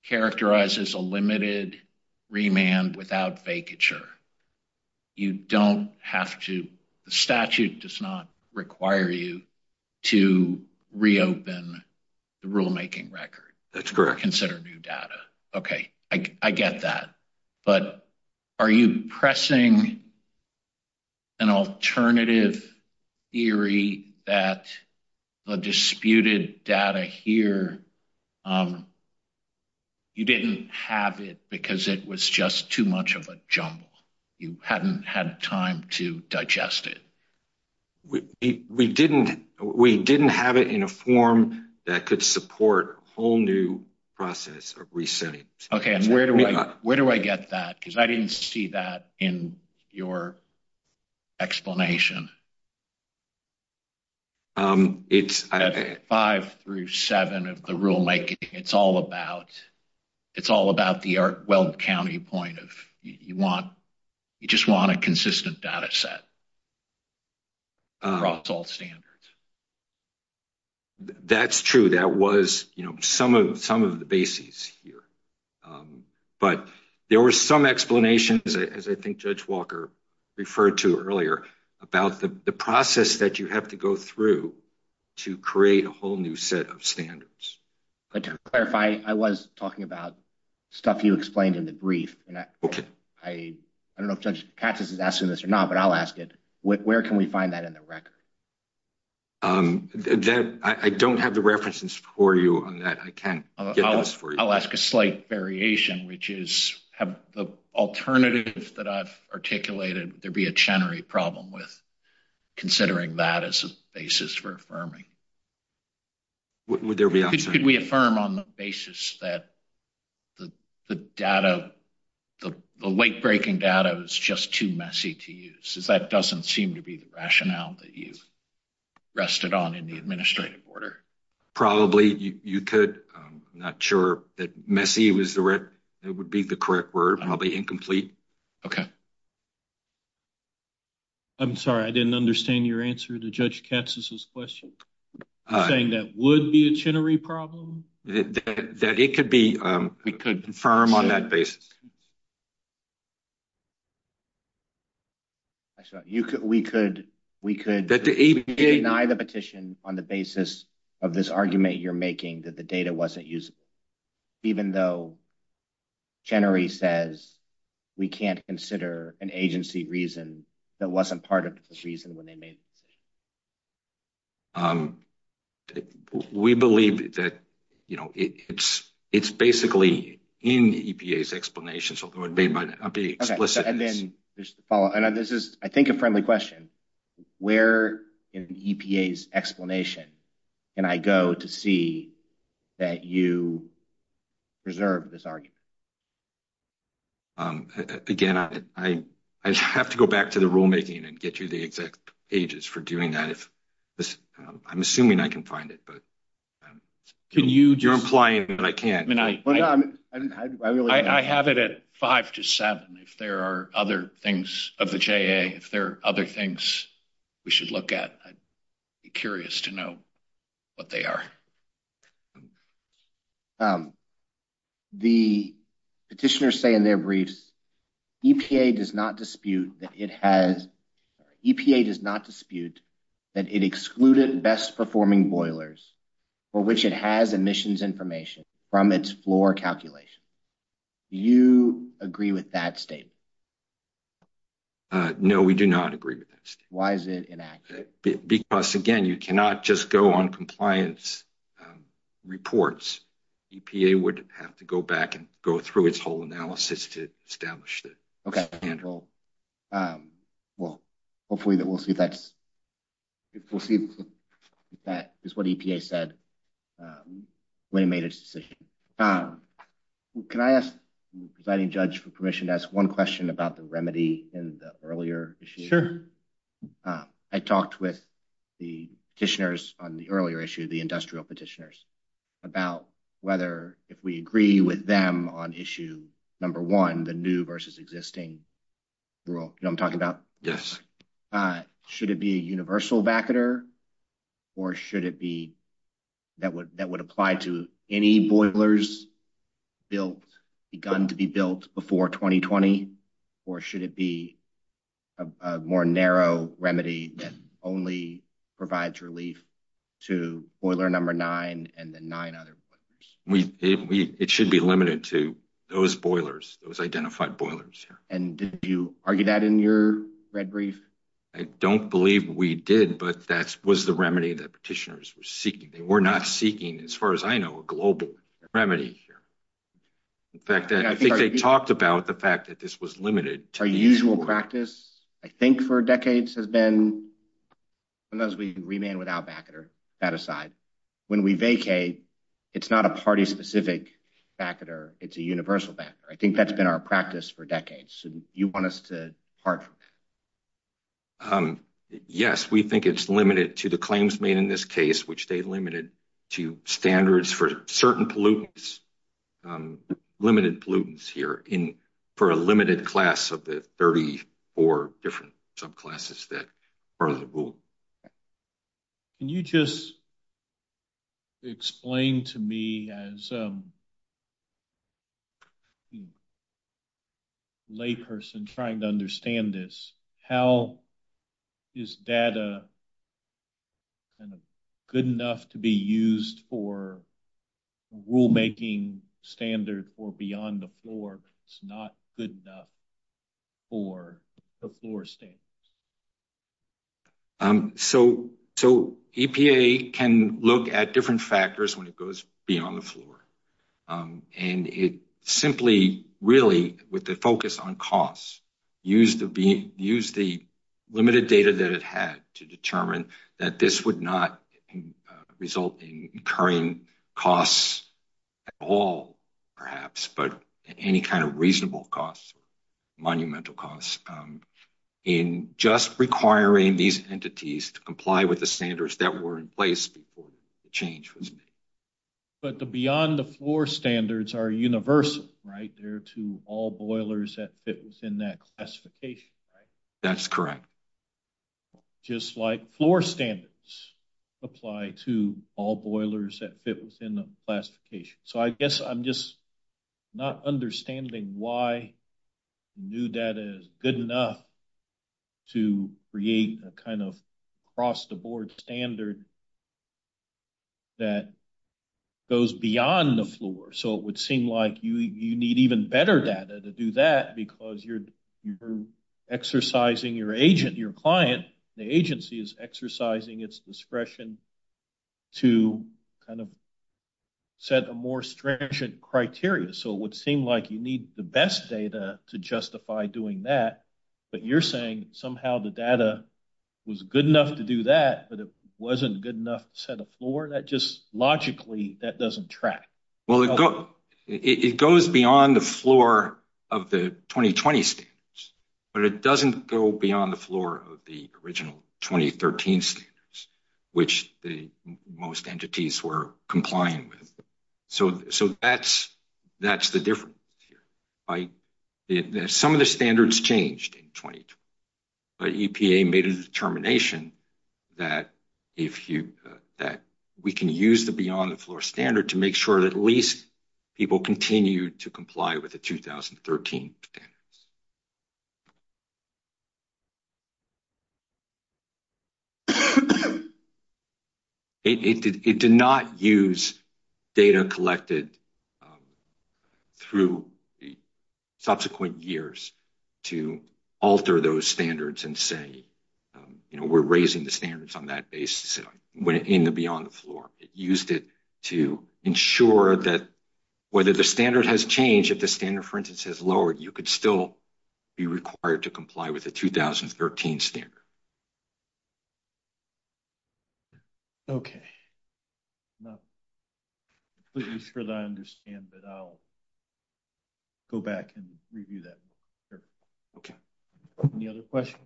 characterize as a limited remand without vacature, you don't have to, the statute does not require you to reopen the rulemaking record. That's correct. Consider new data. Okay, I get that. But are you pressing an alternative theory that the disputed data here, you didn't have it because it was just too much of a jumble? You hadn't had time to digest it? We didn't have it in a form that could support a whole new process of resetting. Okay, and where do I get that? Because I didn't see that in your explanation. Five through seven of the rulemaking, it's all about the Art Weld County point of, you want, you just want a consistent data set across all standards. That's true. That was, you know, some of the bases here. But there were some explanations, as I think Judge Walker referred to earlier, about the process that you have to go through to create a whole new set of standards. But to clarify, I was talking about stuff you explained in the brief. Okay. I don't know if Judge Katz is asking this or not, but I'll ask it. Where can we find that in the record? I don't have the references for you on that. I can't get those for you. I'll ask a slight variation, which is, have the alternatives that I've articulated, there be a Chenery problem with considering that as a basis for affirming? Could we affirm on the basis that the data, the late-breaking data, is just too messy to use? That doesn't seem to be the rationale that you've rested on in the administrative order. Probably you could. I'm not sure that would be the correct word. Probably incomplete. Okay. I'm sorry. I didn't understand your answer to Judge Katz's question. You're saying that would be a Chenery problem? That it could be. We could affirm on that basis. Actually, we could deny the petition on the basis of this argument you're making, that the data wasn't usable, even though Chenery says we can't consider an agency reason that wasn't part of the petition when they made the decision. We believe that it's basically in the EPA's explanation. I'll be explicit. Okay. Then, just to follow up. This is, I think, a friendly question. Where in the EPA's explanation can I go to see that you preserve this argument? Again, I have to go back to the rulemaking and get you the exact pages for doing that. I'm assuming I can find it. You're implying that I can't. I have it at five to seven, if there are other things of the JA, if there are other things we should look at. I'd be curious to know what they are. The petitioners say in their briefs, EPA does not dispute that it excluded best performing boilers for which it has emissions information from its floor calculation. Do you agree with that statement? No, we do not agree with it. Why is it inaccurate? Because, again, you cannot just go on compliance reports. EPA would have to go back and go through its whole analysis to establish that. Okay. Hopefully, we'll see if that is what EPA said when it made its decision. Can I ask the presiding judge for permission to ask one question about the remedy in the earlier issue? Sure. I talked with the petitioners on the earlier issue, the industrial petitioners, about whether if we agree with them on issue number one, the new versus existing rule, you know what I'm talking about? Yes. Should it be a universal vacuum or should it be that would apply to any boilers built, begun to be built before 2020? Or should it be a more narrow remedy that only provides relief to boiler number nine and the nine other? It should be limited to those boilers, those identified boilers. Did you argue that in your red brief? I don't believe we did, but that was the remedy that petitioners were seeking. They were not seeking, as far as I know, a global remedy here. In fact, I think they talked about the fact that this was limited. Our usual practice, I think, for decades has been unless we remain without vacuum. That aside, when we vacate, it's not a party-specific vacuum. It's a universal vacuum. I think that's been our practice for decades. You want us to argue that? Yes, we think it's limited to the claims made in this case, which they limited to standards for certain pollutants, limited pollutants here for a limited class of the 34 different subclasses that are in the rule. Can you just explain to me as a layperson trying to understand this, how is that good enough to be used for rule-making standard for beyond the floor, but it's not good enough for the floor standards? EPA can look at different factors when it goes beyond the floor. With the focus on costs, use the limited data that it had to determine that this would not result in incurring costs at all, perhaps, but any kind of reasonable costs, monumental costs, in just requiring these entities to comply with the standards that were in place before the change. But the beyond the floor standards are universal, right? They're to all boilers that fit within that classification, right? That's correct. Just like floor standards apply to all boilers that fit within the classification. So I guess I'm just not understanding why new data is good enough to create a kind of cross-the-board standard that goes beyond the floor. So it would seem like you need even better data to do that because you're exercising your agent, your client, the agency is exercising its discretion to kind of set a more stringent criteria. So it would seem like you need the best data to justify doing that, but you're saying somehow the data was good enough to do that, but it wasn't good enough to set a floor? That just logically, that doesn't track. Well, it goes beyond the floor of the 2020 standards, but it doesn't go beyond the floor of the original 2013 standards, which the most entities were complying with. So that's the difference here. Some of the standards changed in 2012, but EPA made a determination that we can use the beyond the floor standard to make sure that at least people continue to comply with the 2013 standards. It did not use data collected through the subsequent years to alter those standards and say, you know, we're raising the standards on that basis. It went in the beyond the floor. It used it to ensure that whether the standard has changed, if the standard, for instance, has lowered, you could still be required to comply with the 2013 standard. Okay. I'm not completely sure that I understand, but I'll go back and review that. Okay. Any other questions?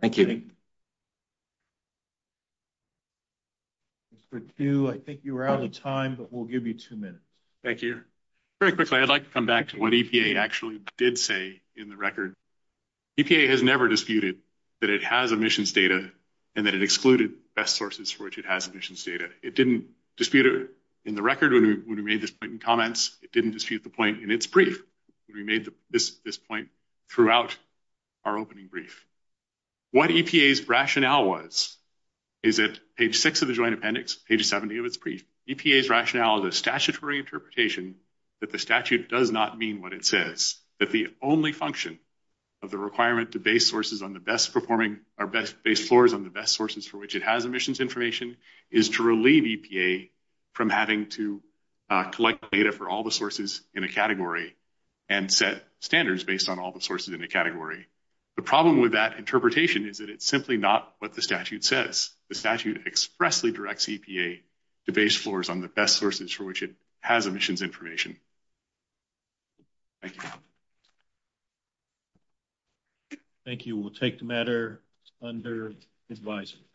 Thank you. I think you were out of time, but we'll give you two minutes. Thank you. Very quickly, I'd like to come back to what EPA actually did say in the record. EPA has never disputed that it has emissions data and that it excluded best sources for which it has emissions data. It didn't dispute it in the record when we made the written comments. It didn't dispute this point throughout our opening brief. What EPA's rationale was is that page six of the joint appendix, page 70 of its brief, EPA's rationale is a statutory interpretation that the statute does not mean what it says, that the only function of the requirement to base sources on the best performing or base floors on the best sources for which it has emissions information is to relieve EPA from having to collect data for all the sources in a category and set standards based on all the sources in the category. The problem with that interpretation is that it's simply not what the statute says. The statute expressly directs EPA to base floors on the best sources for which it has emissions information. Thank you. Thank you. We'll take the matter under advisory.